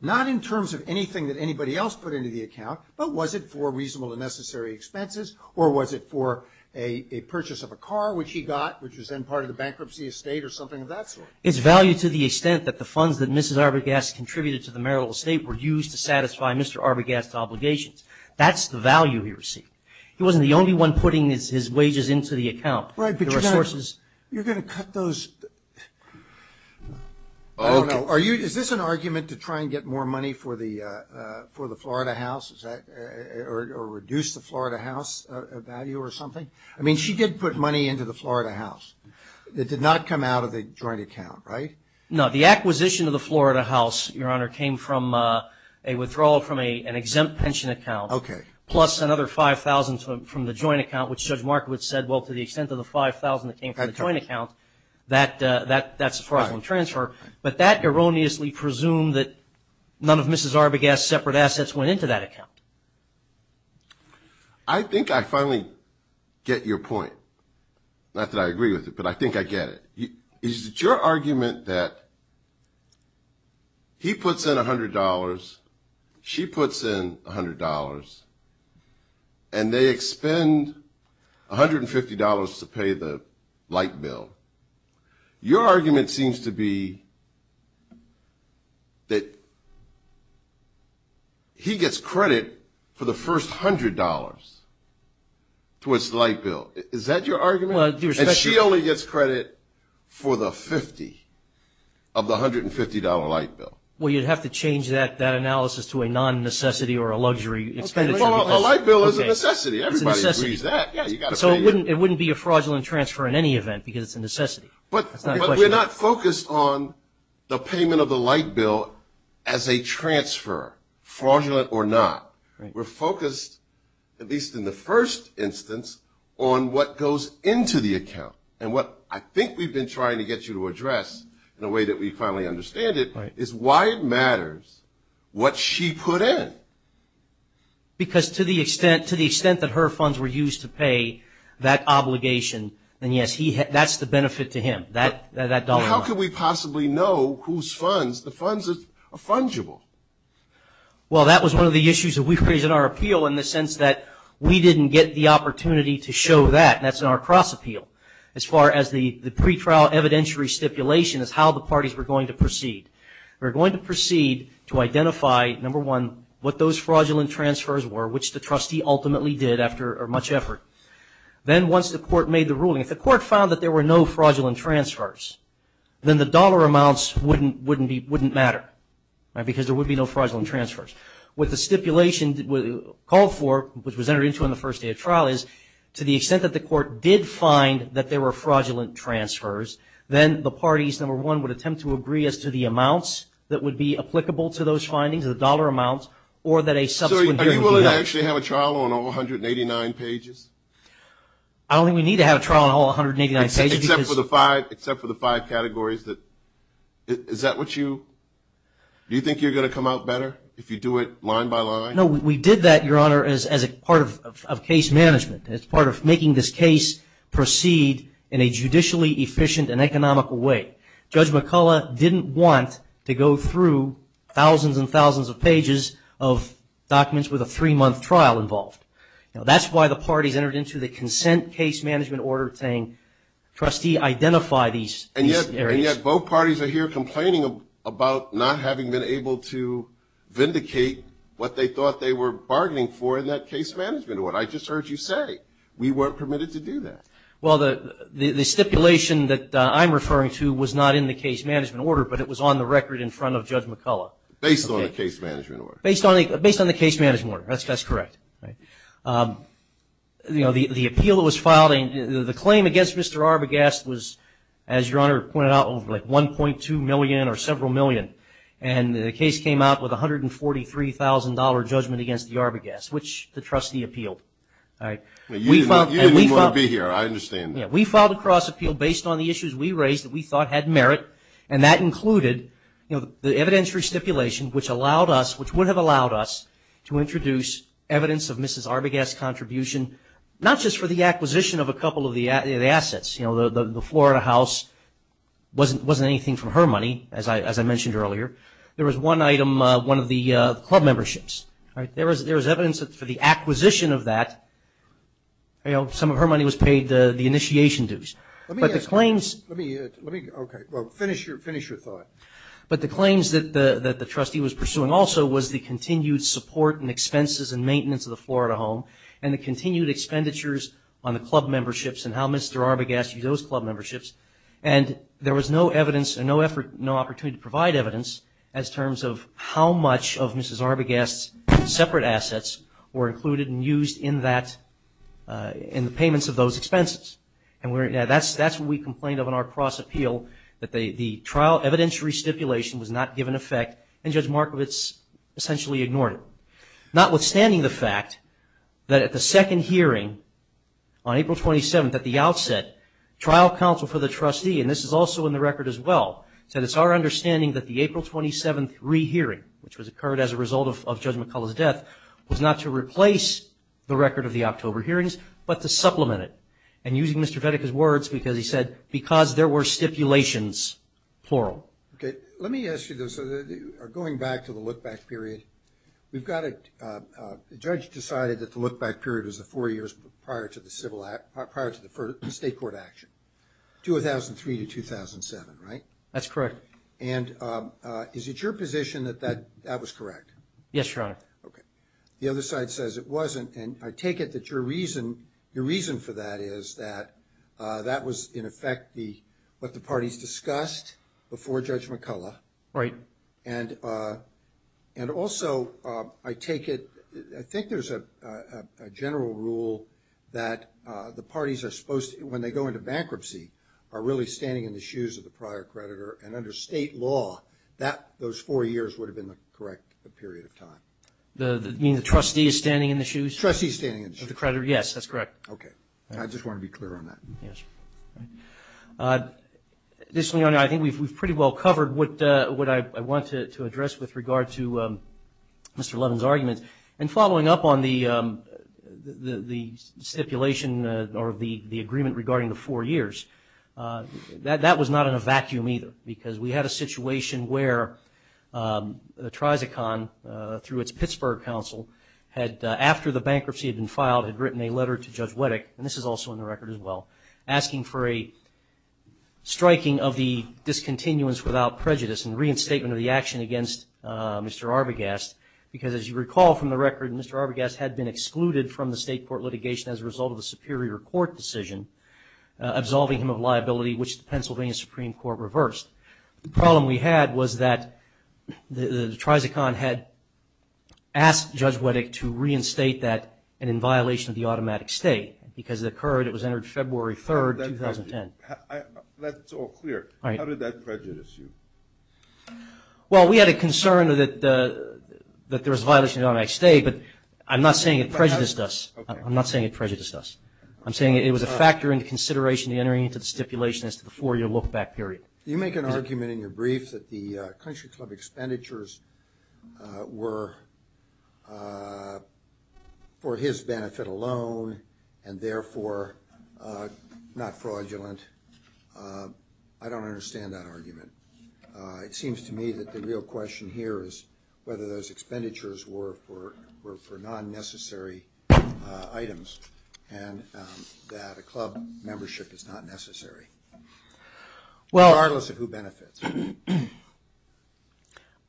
not in terms of anything that anybody else put into the account, but was it for reasonable and necessary expenses or was it for a purchase of a car, which he got, which was then part of the bankruptcy estate or something of that sort? It's valued to the extent that the funds that Mrs. Arbogast contributed to the marital estate were used to satisfy Mr. Arbogast's obligations. That's the value he received. He wasn't the only one putting his wages into the account. Right, but you're going to cut those. Is this an argument to try and get more money for the Florida house or reduce the Florida house value or something? I mean, she did put money into the Florida house. It did not come out of a joint account, right? No, the acquisition of the Florida house, Your Honor, came from a withdrawal from an exempt pension account, plus another $5,000 from the joint account, which Judge Markowitz said, well, to the extent of the $5,000 that came from the joint account, that's a fraudulent transfer. But that erroneously presumed that none of Mrs. Arbogast's separate assets went into that account. I think I finally get your point. Not that I agree with it, but I think I get it. Is it your argument that he puts in $100, she puts in $100, and they expend $150 to pay the light bill? Your argument seems to be that he gets credit for the first $100 to his light bill. Is that your argument? She only gets credit for the 50 of the $150 light bill. Well, you'd have to change that analysis to a non-necessity or a luxury. A light bill is a necessity. Everybody agrees that. So it wouldn't be a fraudulent transfer in any event because it's a necessity. But we're not focused on the payment of the light bill as a transfer, fraudulent or not. We're focused, at least in the first instance, on what goes into the account. And what I think we've been trying to get you to address in a way that we finally understand it, is why it matters what she put in. Because to the extent that her funds were used to pay that obligation, and, yes, that's the benefit to him, that dollar amount. How could we possibly know whose funds? The funds are fungible. Well, that was one of the issues that we raised in our appeal, in the sense that we didn't get the opportunity to show that. That's in our cross-appeal. As far as the pretrial evidentiary stipulation is how the parties were going to proceed. We're going to proceed to identify, number one, what those fraudulent transfers were, which the trustee ultimately did after much effort. Then once the court made the ruling, if the court found that there were no fraudulent transfers, then the dollar amounts wouldn't matter because there would be no fraudulent transfers. What the stipulation called for, which was entered into in the first day of trial, is to the extent that the court did find that there were fraudulent transfers, then the parties, number one, would attempt to agree as to the amounts that would be applicable to those findings, the dollar amounts, or that a supplementary rule. So are you willing to actually have a trial on all 189 pages? I don't think we need to have a trial on all 189 pages. Except for the five categories. Is that what you – do you think you're going to come out better if you do it line by line? No, we did that, Your Honor, as part of case management. As part of making this case proceed in a judicially efficient and economical way. Judge McCullough didn't want to go through thousands and thousands of pages of documents with a three-month trial involved. That's why the parties entered into the consent case management order saying, trustee, identify these areas. And yet both parties are here complaining about not having been able to vindicate what they thought they were bargaining for in that case management order. That's what I just heard you say. We weren't permitted to do that. Well, the stipulation that I'm referring to was not in the case management order, but it was on the record in front of Judge McCullough. Based on the case management order. Based on the case management order. That's correct. You know, the appeal that was filed, the claim against Mr. Arbogast was, as Your Honor pointed out, over 1.2 million or several million. And the case came out with $143,000 judgment against the Arbogast, which the trustee appealed. You didn't want to be here. I understand. We filed a cross-appeal based on the issues we raised that we thought had merit, and that included the evidentiary stipulation, which allowed us, which would have allowed us to introduce evidence of Mrs. Arbogast's contribution, not just for the acquisition of a couple of the assets. You know, the Florida house wasn't anything from her money, as I mentioned earlier. There was one item, one of the club memberships. There was evidence that for the acquisition of that, you know, some of her money was paid the initiation dues. Let me get it. Let me get it. Okay. Well, finish your thought. But the claims that the trustee was pursuing also was the continued support and expenses and maintenance of the Florida home and the continued expenditures on the club memberships and how Mr. Arbogast used those club memberships. And there was no evidence and no effort, no opportunity to provide evidence as terms of how much of Mrs. Arbogast's separate assets were included and used in that, in the payments of those expenses. And that's what we complained of in our cross-appeal, that the trial evidentiary stipulation was not given effect, and Judge Markovitz essentially ignored it. Notwithstanding the fact that at the second hearing on April 27th, at the outset, trial counsel for the trustee, and this is also in the record as well, said it's our understanding that the April 27th rehearing, which was occurred as a result of Judge McCullough's death, was not to replace the record of the October hearings, but to supplement it. And using Mr. Vedek's words, he said, because there were stipulations, plural. Okay. Let me ask you this. So going back to the look-back period, the judge decided that the look-back period was the four years prior to the state court action, 2003 to 2007, right? That's correct. And is it your position that that was correct? Yes, Your Honor. The other side says it wasn't. And I take it that your reason for that is that that was, in effect, what the parties discussed before Judge McCullough. Right. And also, I take it, I think there's a general rule that the parties are supposed to, when they go into bankruptcy, are really standing in the shoes of the prior creditor, and under state law, those four years would have been the correct period of time. You mean the trustee is standing in the shoes? Trustee is standing in the shoes. Of the creditor, yes, that's correct. Okay. I just want to be clear on that. Yes. This, Your Honor, I think we've pretty well covered what I want to address with regard to Mr. Levin's argument. And following up on the stipulation or the agreement regarding the four years, that was not in a vacuum either, because we had a situation where the Trizicon, through its Pittsburgh counsel, had, after the bankruptcy had been filed, had written a letter to Judge Wettick, and this is also on the record as well, asking for a striking of the discontinuance without prejudice and reinstatement of the action against Mr. Arbogast. Because, as you recall from the record, Mr. Arbogast had been excluded from the state court litigation as a result of a superior court decision, absolving him of liability, which the Pennsylvania Supreme Court reversed. The problem we had was that the Trizicon had asked Judge Wettick to reinstate that and in violation of the automatic state. Because it occurred, it was entered February 3rd, 2010. That's all clear. How did that prejudice you? Well, we had a concern that there was a violation of the automatic state, but I'm not saying it prejudiced us. I'm not saying it prejudiced us. I'm saying it was a factor in the consideration of entering into the stipulation as to the four-year lookback period. You make an argument in your brief that the country club expenditures were for his benefit alone and therefore not fraudulent. I don't understand that argument. It seems to me that the real question here is whether those expenditures were for non-necessary items and that a club membership is not necessary, regardless of who benefits.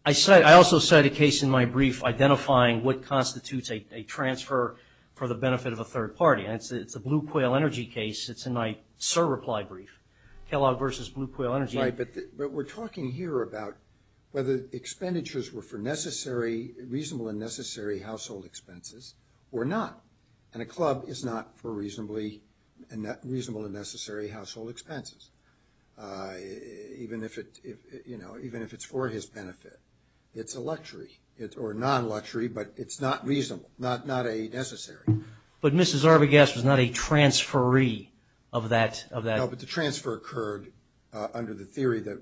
I also cite a case in my brief identifying what constitutes a transfer for the benefit of a third party. It's a Blue Coil Energy case. It's in my SIR reply brief, Kellogg versus Blue Coil Energy. Right, but we're talking here about whether the expenditures were for reasonable and necessary household expenses or not, and a club is not for reasonable and necessary household expenses, even if it's for his benefit. It's a luxury or non-luxury, but it's not reasonable, not a necessary. But Mrs. Arbogast was not a transferee of that. No, but the transfer occurred under the theory that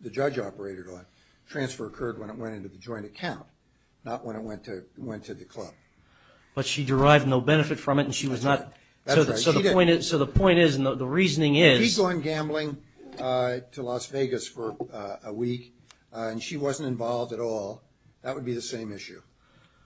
the judge operator left. The transfer occurred when it went into the joint account, not when it went to the club. But she derived no benefit from it and she was not. So the point is and the reasoning is... If she's going gambling to Las Vegas for a week and she wasn't involved at all, that would be the same issue.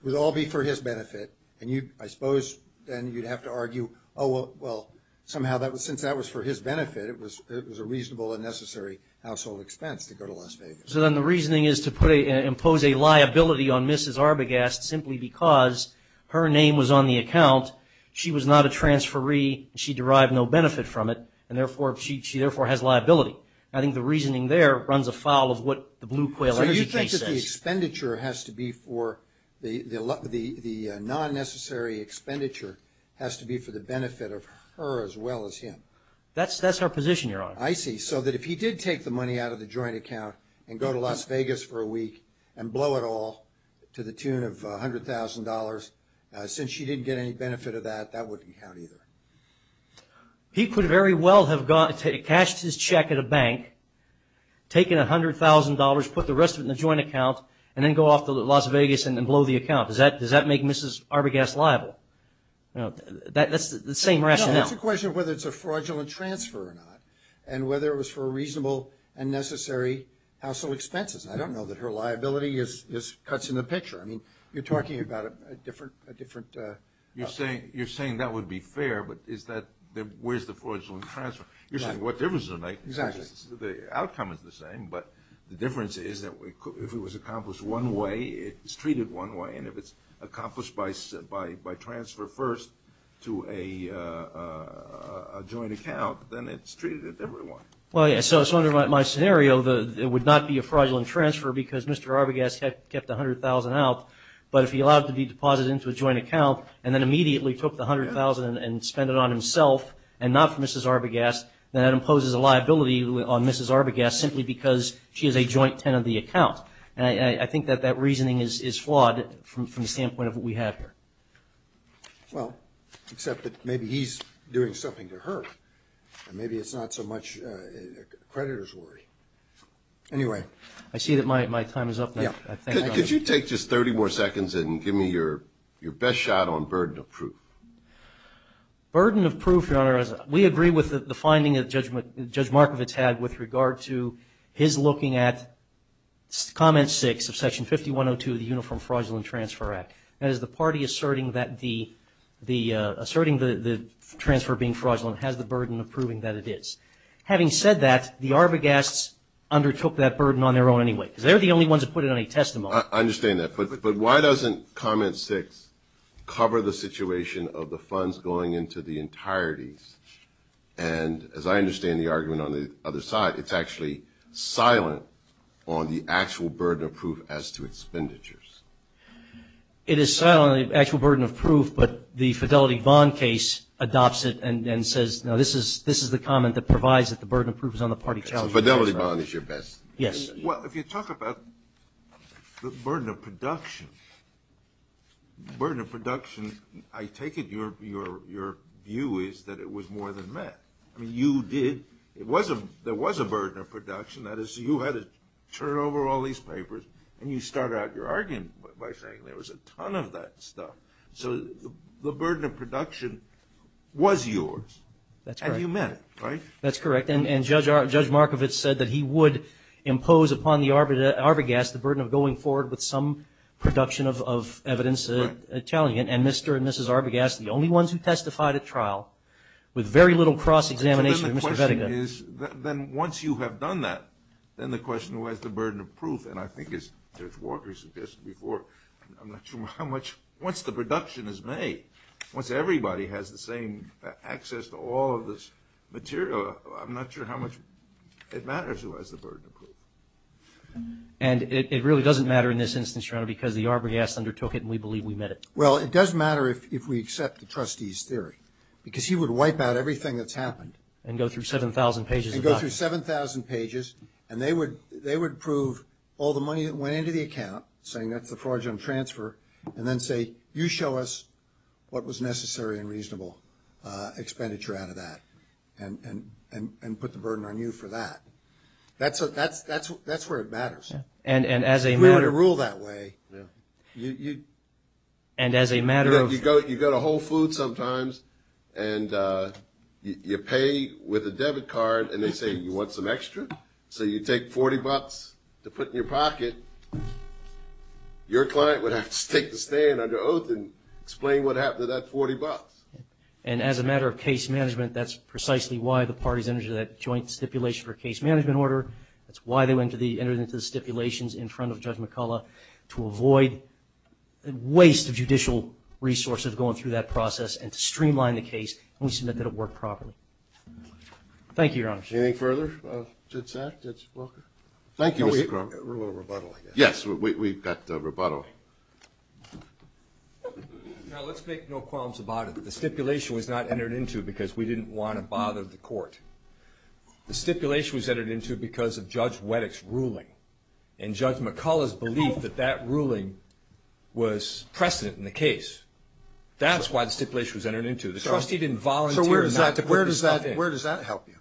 It would all be for his benefit, and I suppose then you'd have to argue, oh, well, somehow since that was for his benefit, it was a reasonable and necessary household expense to go to Las Vegas. So then the reasoning is to impose a liability on Mrs. Arbogast simply because her name was on the account. She was not a transferee. She derived no benefit from it, and therefore she has liability. I think the reasoning there runs afoul of what the blue quail... So you think that the expenditure has to be for... the non-necessary expenditure has to be for the benefit of her as well as him. That's her position, Your Honor. I see. So that if he did take the money out of the joint account and go to Las Vegas for a week and blow it all to the tune of $100,000, since she didn't get any benefit of that, that wouldn't count either. He could very well have cashed his check at a bank, taken $100,000, put the rest of it in the joint account, and then go off to Las Vegas and blow the account. Does that make Mrs. Arbogast liable? That's the same rationale. It's just a question of whether it's a fraudulent transfer or not and whether it was for a reasonable and necessary household expenses. I don't know that her liability cuts in the picture. You're talking about a different... You're saying that would be fair, but where's the fraudulent transfer? You're saying what difference does it make? The outcome is the same, but the difference is that if it was accomplished one way, it's treated one way, and if it's accomplished by transfer first to a joint account, then it's treated as everyone. Well, yeah, so under my scenario, it would not be a fraudulent transfer because Mr. Arbogast kept $100,000 out, but if he allowed it to be deposited into a joint account and then immediately took the $100,000 and spent it on himself and not for Mrs. Arbogast, then that imposes a liability on Mrs. Arbogast simply because she is a joint tenant of the account. I think that that reasoning is flawed from the standpoint of what we have here. Well, except that maybe he's doing something to her, and maybe it's not so much a creditor's worry. Anyway, I see that my time is up now. Could you take just 30 more seconds and give me your best shot on burden of proof? Burden of proof, Your Honor, we agree with the finding that Judge Markovitz had with regard to his looking at Comment 6 of Section 5102 of the Uniform Fraudulent Transfer Act. That is the party asserting that the transfer being fraudulent has the burden of proving that it is. Having said that, the Arbogasts undertook that burden on their own anyway. They're the only ones that put it on a testimony. I understand that, but why doesn't Comment 6 cover the situation of the funds going into the entirety? And as I understand the argument on the other side, it's actually silent on the actual burden of proof as to expenditures. It is silent on the actual burden of proof, but the Fidelity Bond case adopts it and says, no, this is the comment that provides that the burden of proof is on the party. So Fidelity Bond is your best? Yes. Well, if you talk about the burden of production, I take it your view is that it was more than met. There was a burden of production. That is, you had to turn over all these papers and you start out your argument by saying there was a ton of that stuff. So the burden of production was yours. That's correct. And you met it, right? That's correct. And Judge Markovitz said that he would impose upon the Arbogast the burden of going forward with some production of evidence. And Mr. and Mrs. Arbogast, the only ones who testified at trial, with very little cross-examination of Mr. Vedica. Then once you have done that, then the question, where's the burden of proof? And I think as Judge Walker suggested before, I'm not sure how much, once the production is made, once everybody has the same access to all of this material, I'm not sure how much it matters who has the burden of proof. And it really doesn't matter in this instance, because the Arbogast undertook it and we believe we met it. Well, it does matter if we accept the trustee's theory because he would wipe out everything that's happened. And go through 7,000 pages of documents. And go through 7,000 pages, and they would prove all the money that went into the account, saying that's the fraudulent transfer, and then say you show us what was necessary and reasonable expenditure out of that and put the burden on you for that. That's where it matters. And as a matter of... You ought to rule that way. And as a matter of... And you pay with a debit card, and they say you want some extra, so you take 40 bucks to put in your pocket. Your client would have to take the stand under oath and explain what happened to that 40 bucks. And as a matter of case management, that's precisely why the parties entered into that joint stipulation for case management order. That's why they entered into the stipulations in front of Judge McCullough, to avoid the waste of judicial resources going through that process, and to streamline the case, and we submit that it worked properly. Thank you, Your Honor. Anything further? That's that? Thank you, Mr. Crump. A little rebuttal, I guess. Yes, we've got rebuttal. Now, let's make no qualms about it. The stipulation was not entered into because we didn't want to bother the court. because of Judge Weddick's ruling. And Judge McCullough's belief that that ruling was precedent in the case. That's why the stipulation was entered into. The trustee didn't volunteer. So where does that help you?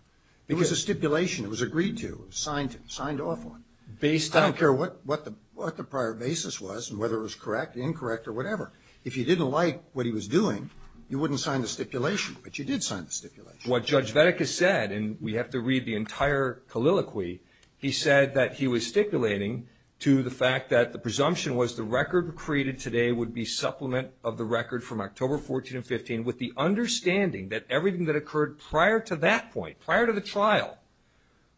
It was a stipulation. It was agreed to. It was signed off on. I don't care what the prior basis was and whether it was correct, incorrect, or whatever. If you didn't like what he was doing, you wouldn't sign the stipulation. But you did sign the stipulation. What Judge Weddick has said, and we have to read the entire colloquy, he said that he was stipulating to the fact that the presumption was the record created today would be supplement of the record from October 14 and 15 with the understanding that everything that occurred prior to that point, prior to the trial,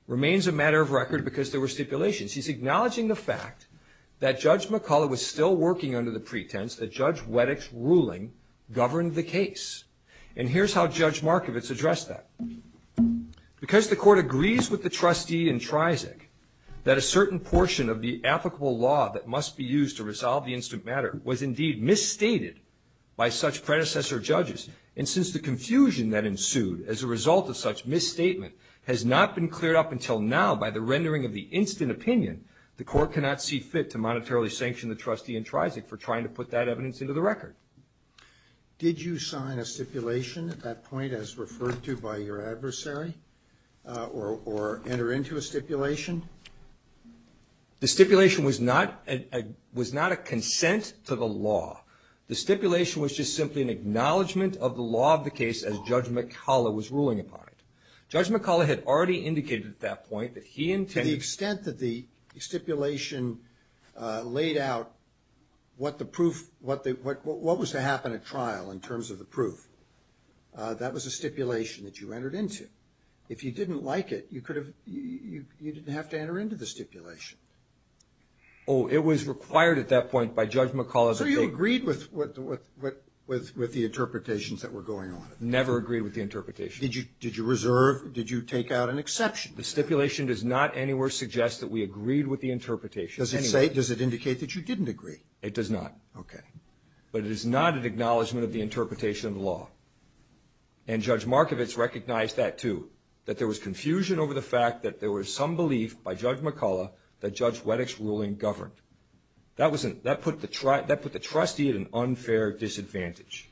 remains a matter of record because there were stipulations. He's acknowledging the fact that Judge McCullough was still working under the pretense that Judge Weddick's ruling governed the case. And here's how Judge Markovitz addressed that. Because the court agrees with the trustee in TRIZIC that a certain portion of the applicable law that must be used to resolve the incident matter was indeed misstated by such predecessor judges. And since the confusion that ensued as a result of such misstatement has not been cleared up until now by the rendering of the incident opinion, the court cannot see fit to monetarily sanction the trustee in TRIZIC for trying to put that evidence into the record. Did you sign a stipulation at that point as referred to by your adversary or enter into a stipulation? The stipulation was not a consent to the law. The stipulation was just simply an acknowledgement of the law of the case as Judge McCullough was ruling upon it. Judge McCullough had already indicated at that point that he intended... To the extent that the stipulation laid out what was to happen at trial in terms of the proof, that was a stipulation that you entered into. If you didn't like it, you didn't have to enter into the stipulation. Oh, it was required at that point by Judge McCullough... So you agreed with the interpretations that were going on. Never agreed with the interpretation. Did you reserve? Did you take out an exception? The stipulation does not anywhere suggest that we agreed with the interpretation. Does it indicate that you didn't agree? It does not. Okay. But it is not an acknowledgement of the interpretation of the law. And Judge Markovich recognized that too, that there was confusion over the fact that there was some belief by Judge McCullough that Judge Wettich's ruling governed. That put the trustee at an unfair disadvantage.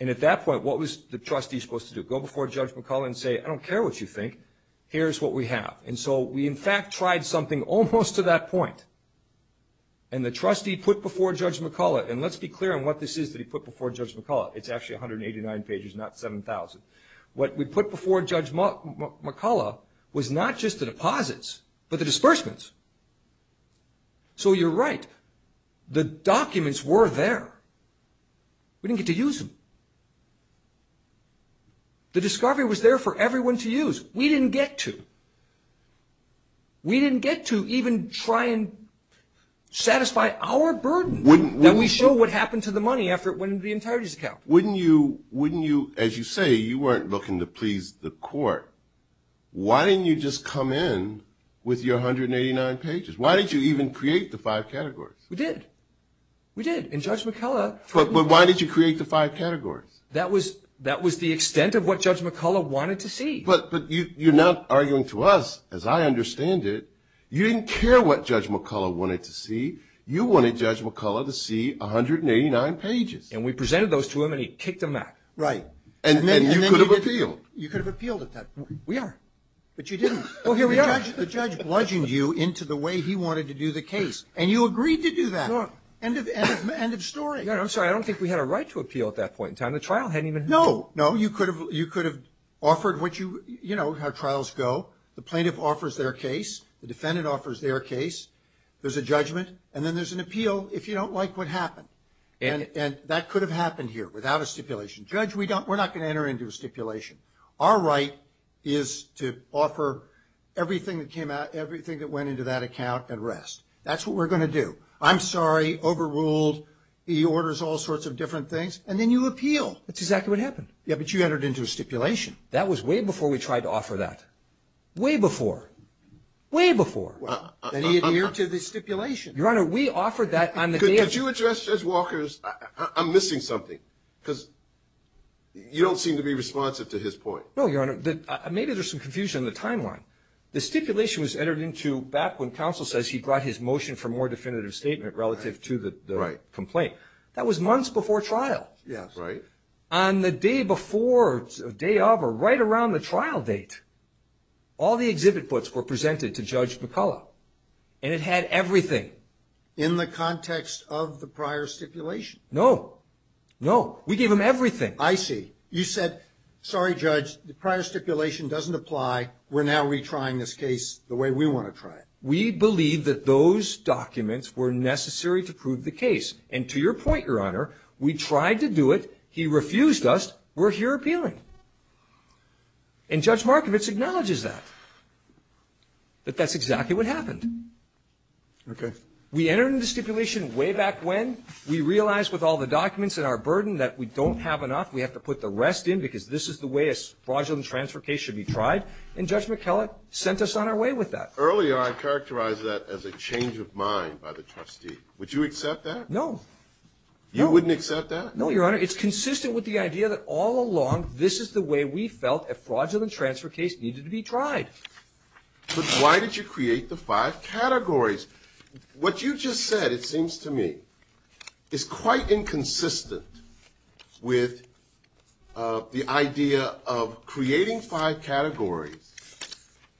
And at that point, what was the trustee supposed to do? Go before Judge McCullough and say, I don't care what you think. Here's what we have. And so we in fact tried something almost to that point. And the trustee put before Judge McCullough, and let's be clear on what this is that he put before Judge McCullough. It's actually 189 pages, not 7,000. What we put before Judge McCullough was not just the deposits, but the disbursements. So you're right. The documents were there. We didn't get to use them. The discovery was there for everyone to use. We didn't get to. We didn't get to even try and satisfy our burden that we show what happened to the money after it went into the entirety's account. Wouldn't you, as you say, you weren't looking to please the court. Why didn't you just come in with your 189 pages? Why did you even create the five categories? We did. We did. And Judge McCullough... But why did you create the five categories? That was the extent of what Judge McCullough wanted to see. But you're now arguing to us, as I understand it, you didn't care what Judge McCullough wanted to see. You wanted Judge McCullough to see 189 pages. And we presented those to him, and he kicked them out. Right. And you could have appealed. You could have appealed at that point. We are. But you didn't. The judge bludgeoned you into the way he wanted to do the case, and you agreed to do that. End of story. I'm sorry. I don't think we had a right to appeal at that point in time. The trial hadn't even begun. No, no. You could have offered how trials go. The plaintiff offers their case. The defendant offers their case. There's a judgment. And then there's an appeal if you don't like what happened. And that could have happened here without a stipulation. Judge, we're not going to enter into a stipulation. Our right is to offer everything that came out, everything that went into that account, and rest. That's what we're going to do. I'm sorry, overruled, he orders all sorts of different things. And then you appeal. Which is exactly what happened. Yeah, but you entered into a stipulation. That was way before we tried to offer that. Way before. Way before. He entered into the stipulation. Your Honor, we offered that. Could you address Judge Walker's, I'm missing something. Because you don't seem to be responsive to his point. No, Your Honor. Maybe there's some confusion in the timeline. The stipulation was entered into back when counsel says he brought his motion for more definitive statement relative to the complaint. That was months before trial. Yes. Right. On the day before, day of, or right around the trial date, all the exhibit books were presented to Judge McCullough. And it had everything. In the context of the prior stipulation. No. No. We gave him everything. I see. You said, sorry, Judge, the prior stipulation doesn't apply. We're now retrying this case the way we want to try it. We believe that those documents were necessary to prove the case. And to your point, Your Honor, we tried to do it. He refused us. We're here appealing. And Judge Markovitz acknowledges that. But that's exactly what happened. Okay. We entered into stipulation way back when. We realized with all the documents and our burden that we don't have enough. We have to put the rest in because this is the way a fraudulent transfer case should be tried. And Judge McCullough sent us on our way with that. Earlier, I characterized that as a change of mind by the trustee. Would you accept that? No. You wouldn't accept that? No, Your Honor. Your Honor, it's consistent with the idea that all along, this is the way we felt a fraudulent transfer case needed to be tried. But why did you create the five categories? What you just said, it seems to me, is quite inconsistent with the idea of creating five categories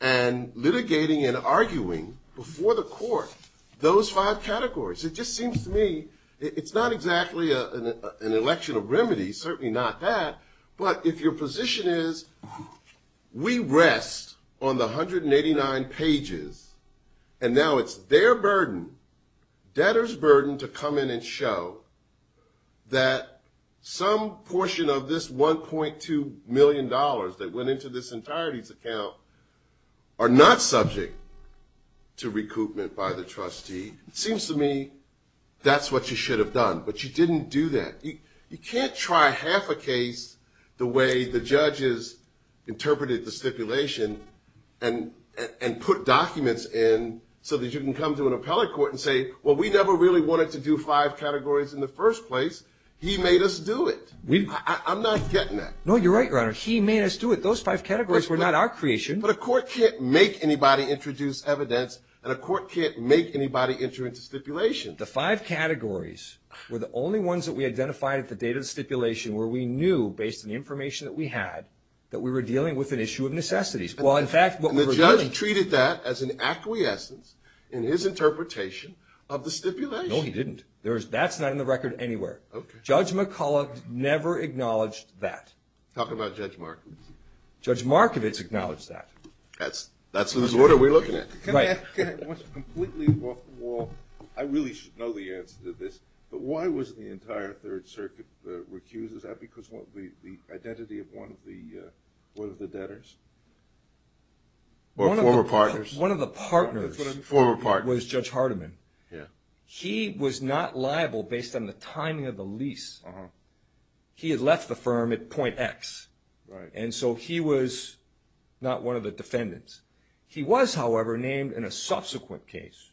and litigating and arguing before the court those five categories. It just seems to me it's not exactly an election of remedy, certainly not that. But if your position is we rest on the 189 pages, and now it's their burden, debtor's burden, to come in and show that some portion of this $1.2 million that went into this entirety's account are not subject to recoupment by the trustee, it seems to me that's what you should have done. But you didn't do that. You can't try half a case the way the judges interpreted the stipulation and put documents in so that you can come to an appellate court and say, well, we never really wanted to do five categories in the first place. He made us do it. I'm not getting that. No, you're right, Your Honor. He made us do it. Those five categories were not our creation. But a court can't make anybody introduce evidence, and a court can't make anybody enter into stipulation. The five categories were the only ones that we identified at the date of stipulation where we knew, based on the information that we had, that we were dealing with an issue of necessities. The judge treated that as an acquiescence in his interpretation of the stipulation. No, he didn't. That's not in the record anywhere. Judge McCullough never acknowledged that. Talking about Judge Markowitz. Judge Markowitz acknowledged that. That's the disorder we're looking at. I really should know the answer to this, but why was the entire Third Circuit recused? Is that because of the identity of one of the debtors? Former partners. One of the partners was Judge Hardiman. He was not liable based on the timing of the lease. He had left the firm at point X, and so he was not one of the defendants. He was, however, named in a subsequent case.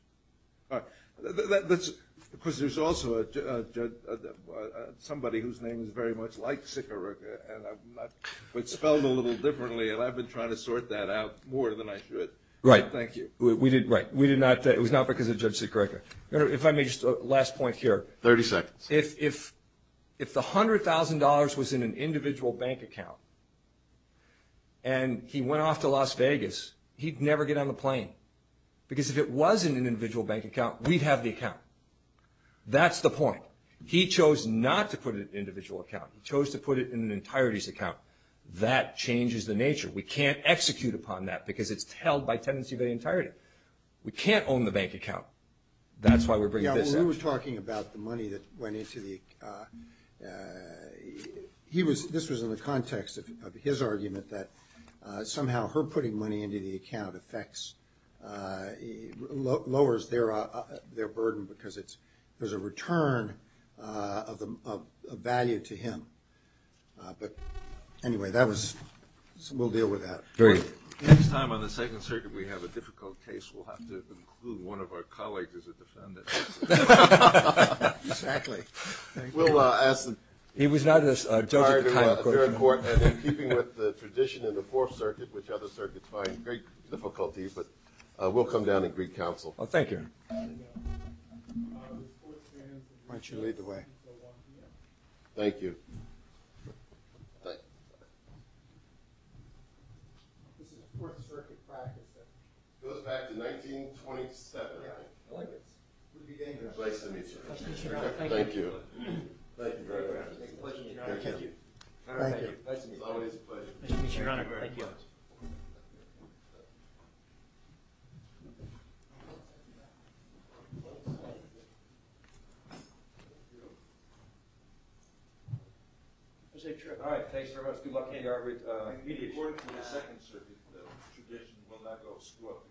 Because there's also somebody whose name is very much like Sikorica, which spelled a little differently, and I've been trying to sort that out more than I should. Thank you. Right. It was not because of Judge Sikorica. If I may, just a last point here. 30 seconds. If the $100,000 was in an individual bank account, and he went off to Las Vegas, he'd never get on a plane. Because if it was in an individual bank account, we'd have the account. That's the point. He chose not to put it in an individual account. He chose to put it in an entirety's account. That changes the nature. We can't execute upon that, because it's held by tenancy of the entirety. We can't own the bank account. That's why we're bringing this up. We were talking about the money that went into the – this was in the context of his argument that somehow her putting money into the account lowers their burden, because there's a return of value to him. Anyway, we'll deal with that. Great. Next time on the Second Circuit we have a difficult case, we'll have to include one of our colleagues as a defendant. Exactly. Thank you. We'll ask the – He was not a – I'm sorry to interrupt, Your Honor, keeping with the tradition in the Fourth Circuit, which other circuits find great difficulties, but we'll come down and greet counsel. Thank you. Why don't you lead the way? Thank you. It goes back to 1927. Good to be here. Pleasure to meet you. Thank you. Pleasure, Your Honor. Pleasure, Your Honor. Thank you. Thank you. Always a pleasure. Thank you, Your Honor. Thank you. All right. Thanks very much. Good luck to you, Your Honor. We report to the Second Circuit that the tradition will not go to school. Thank you.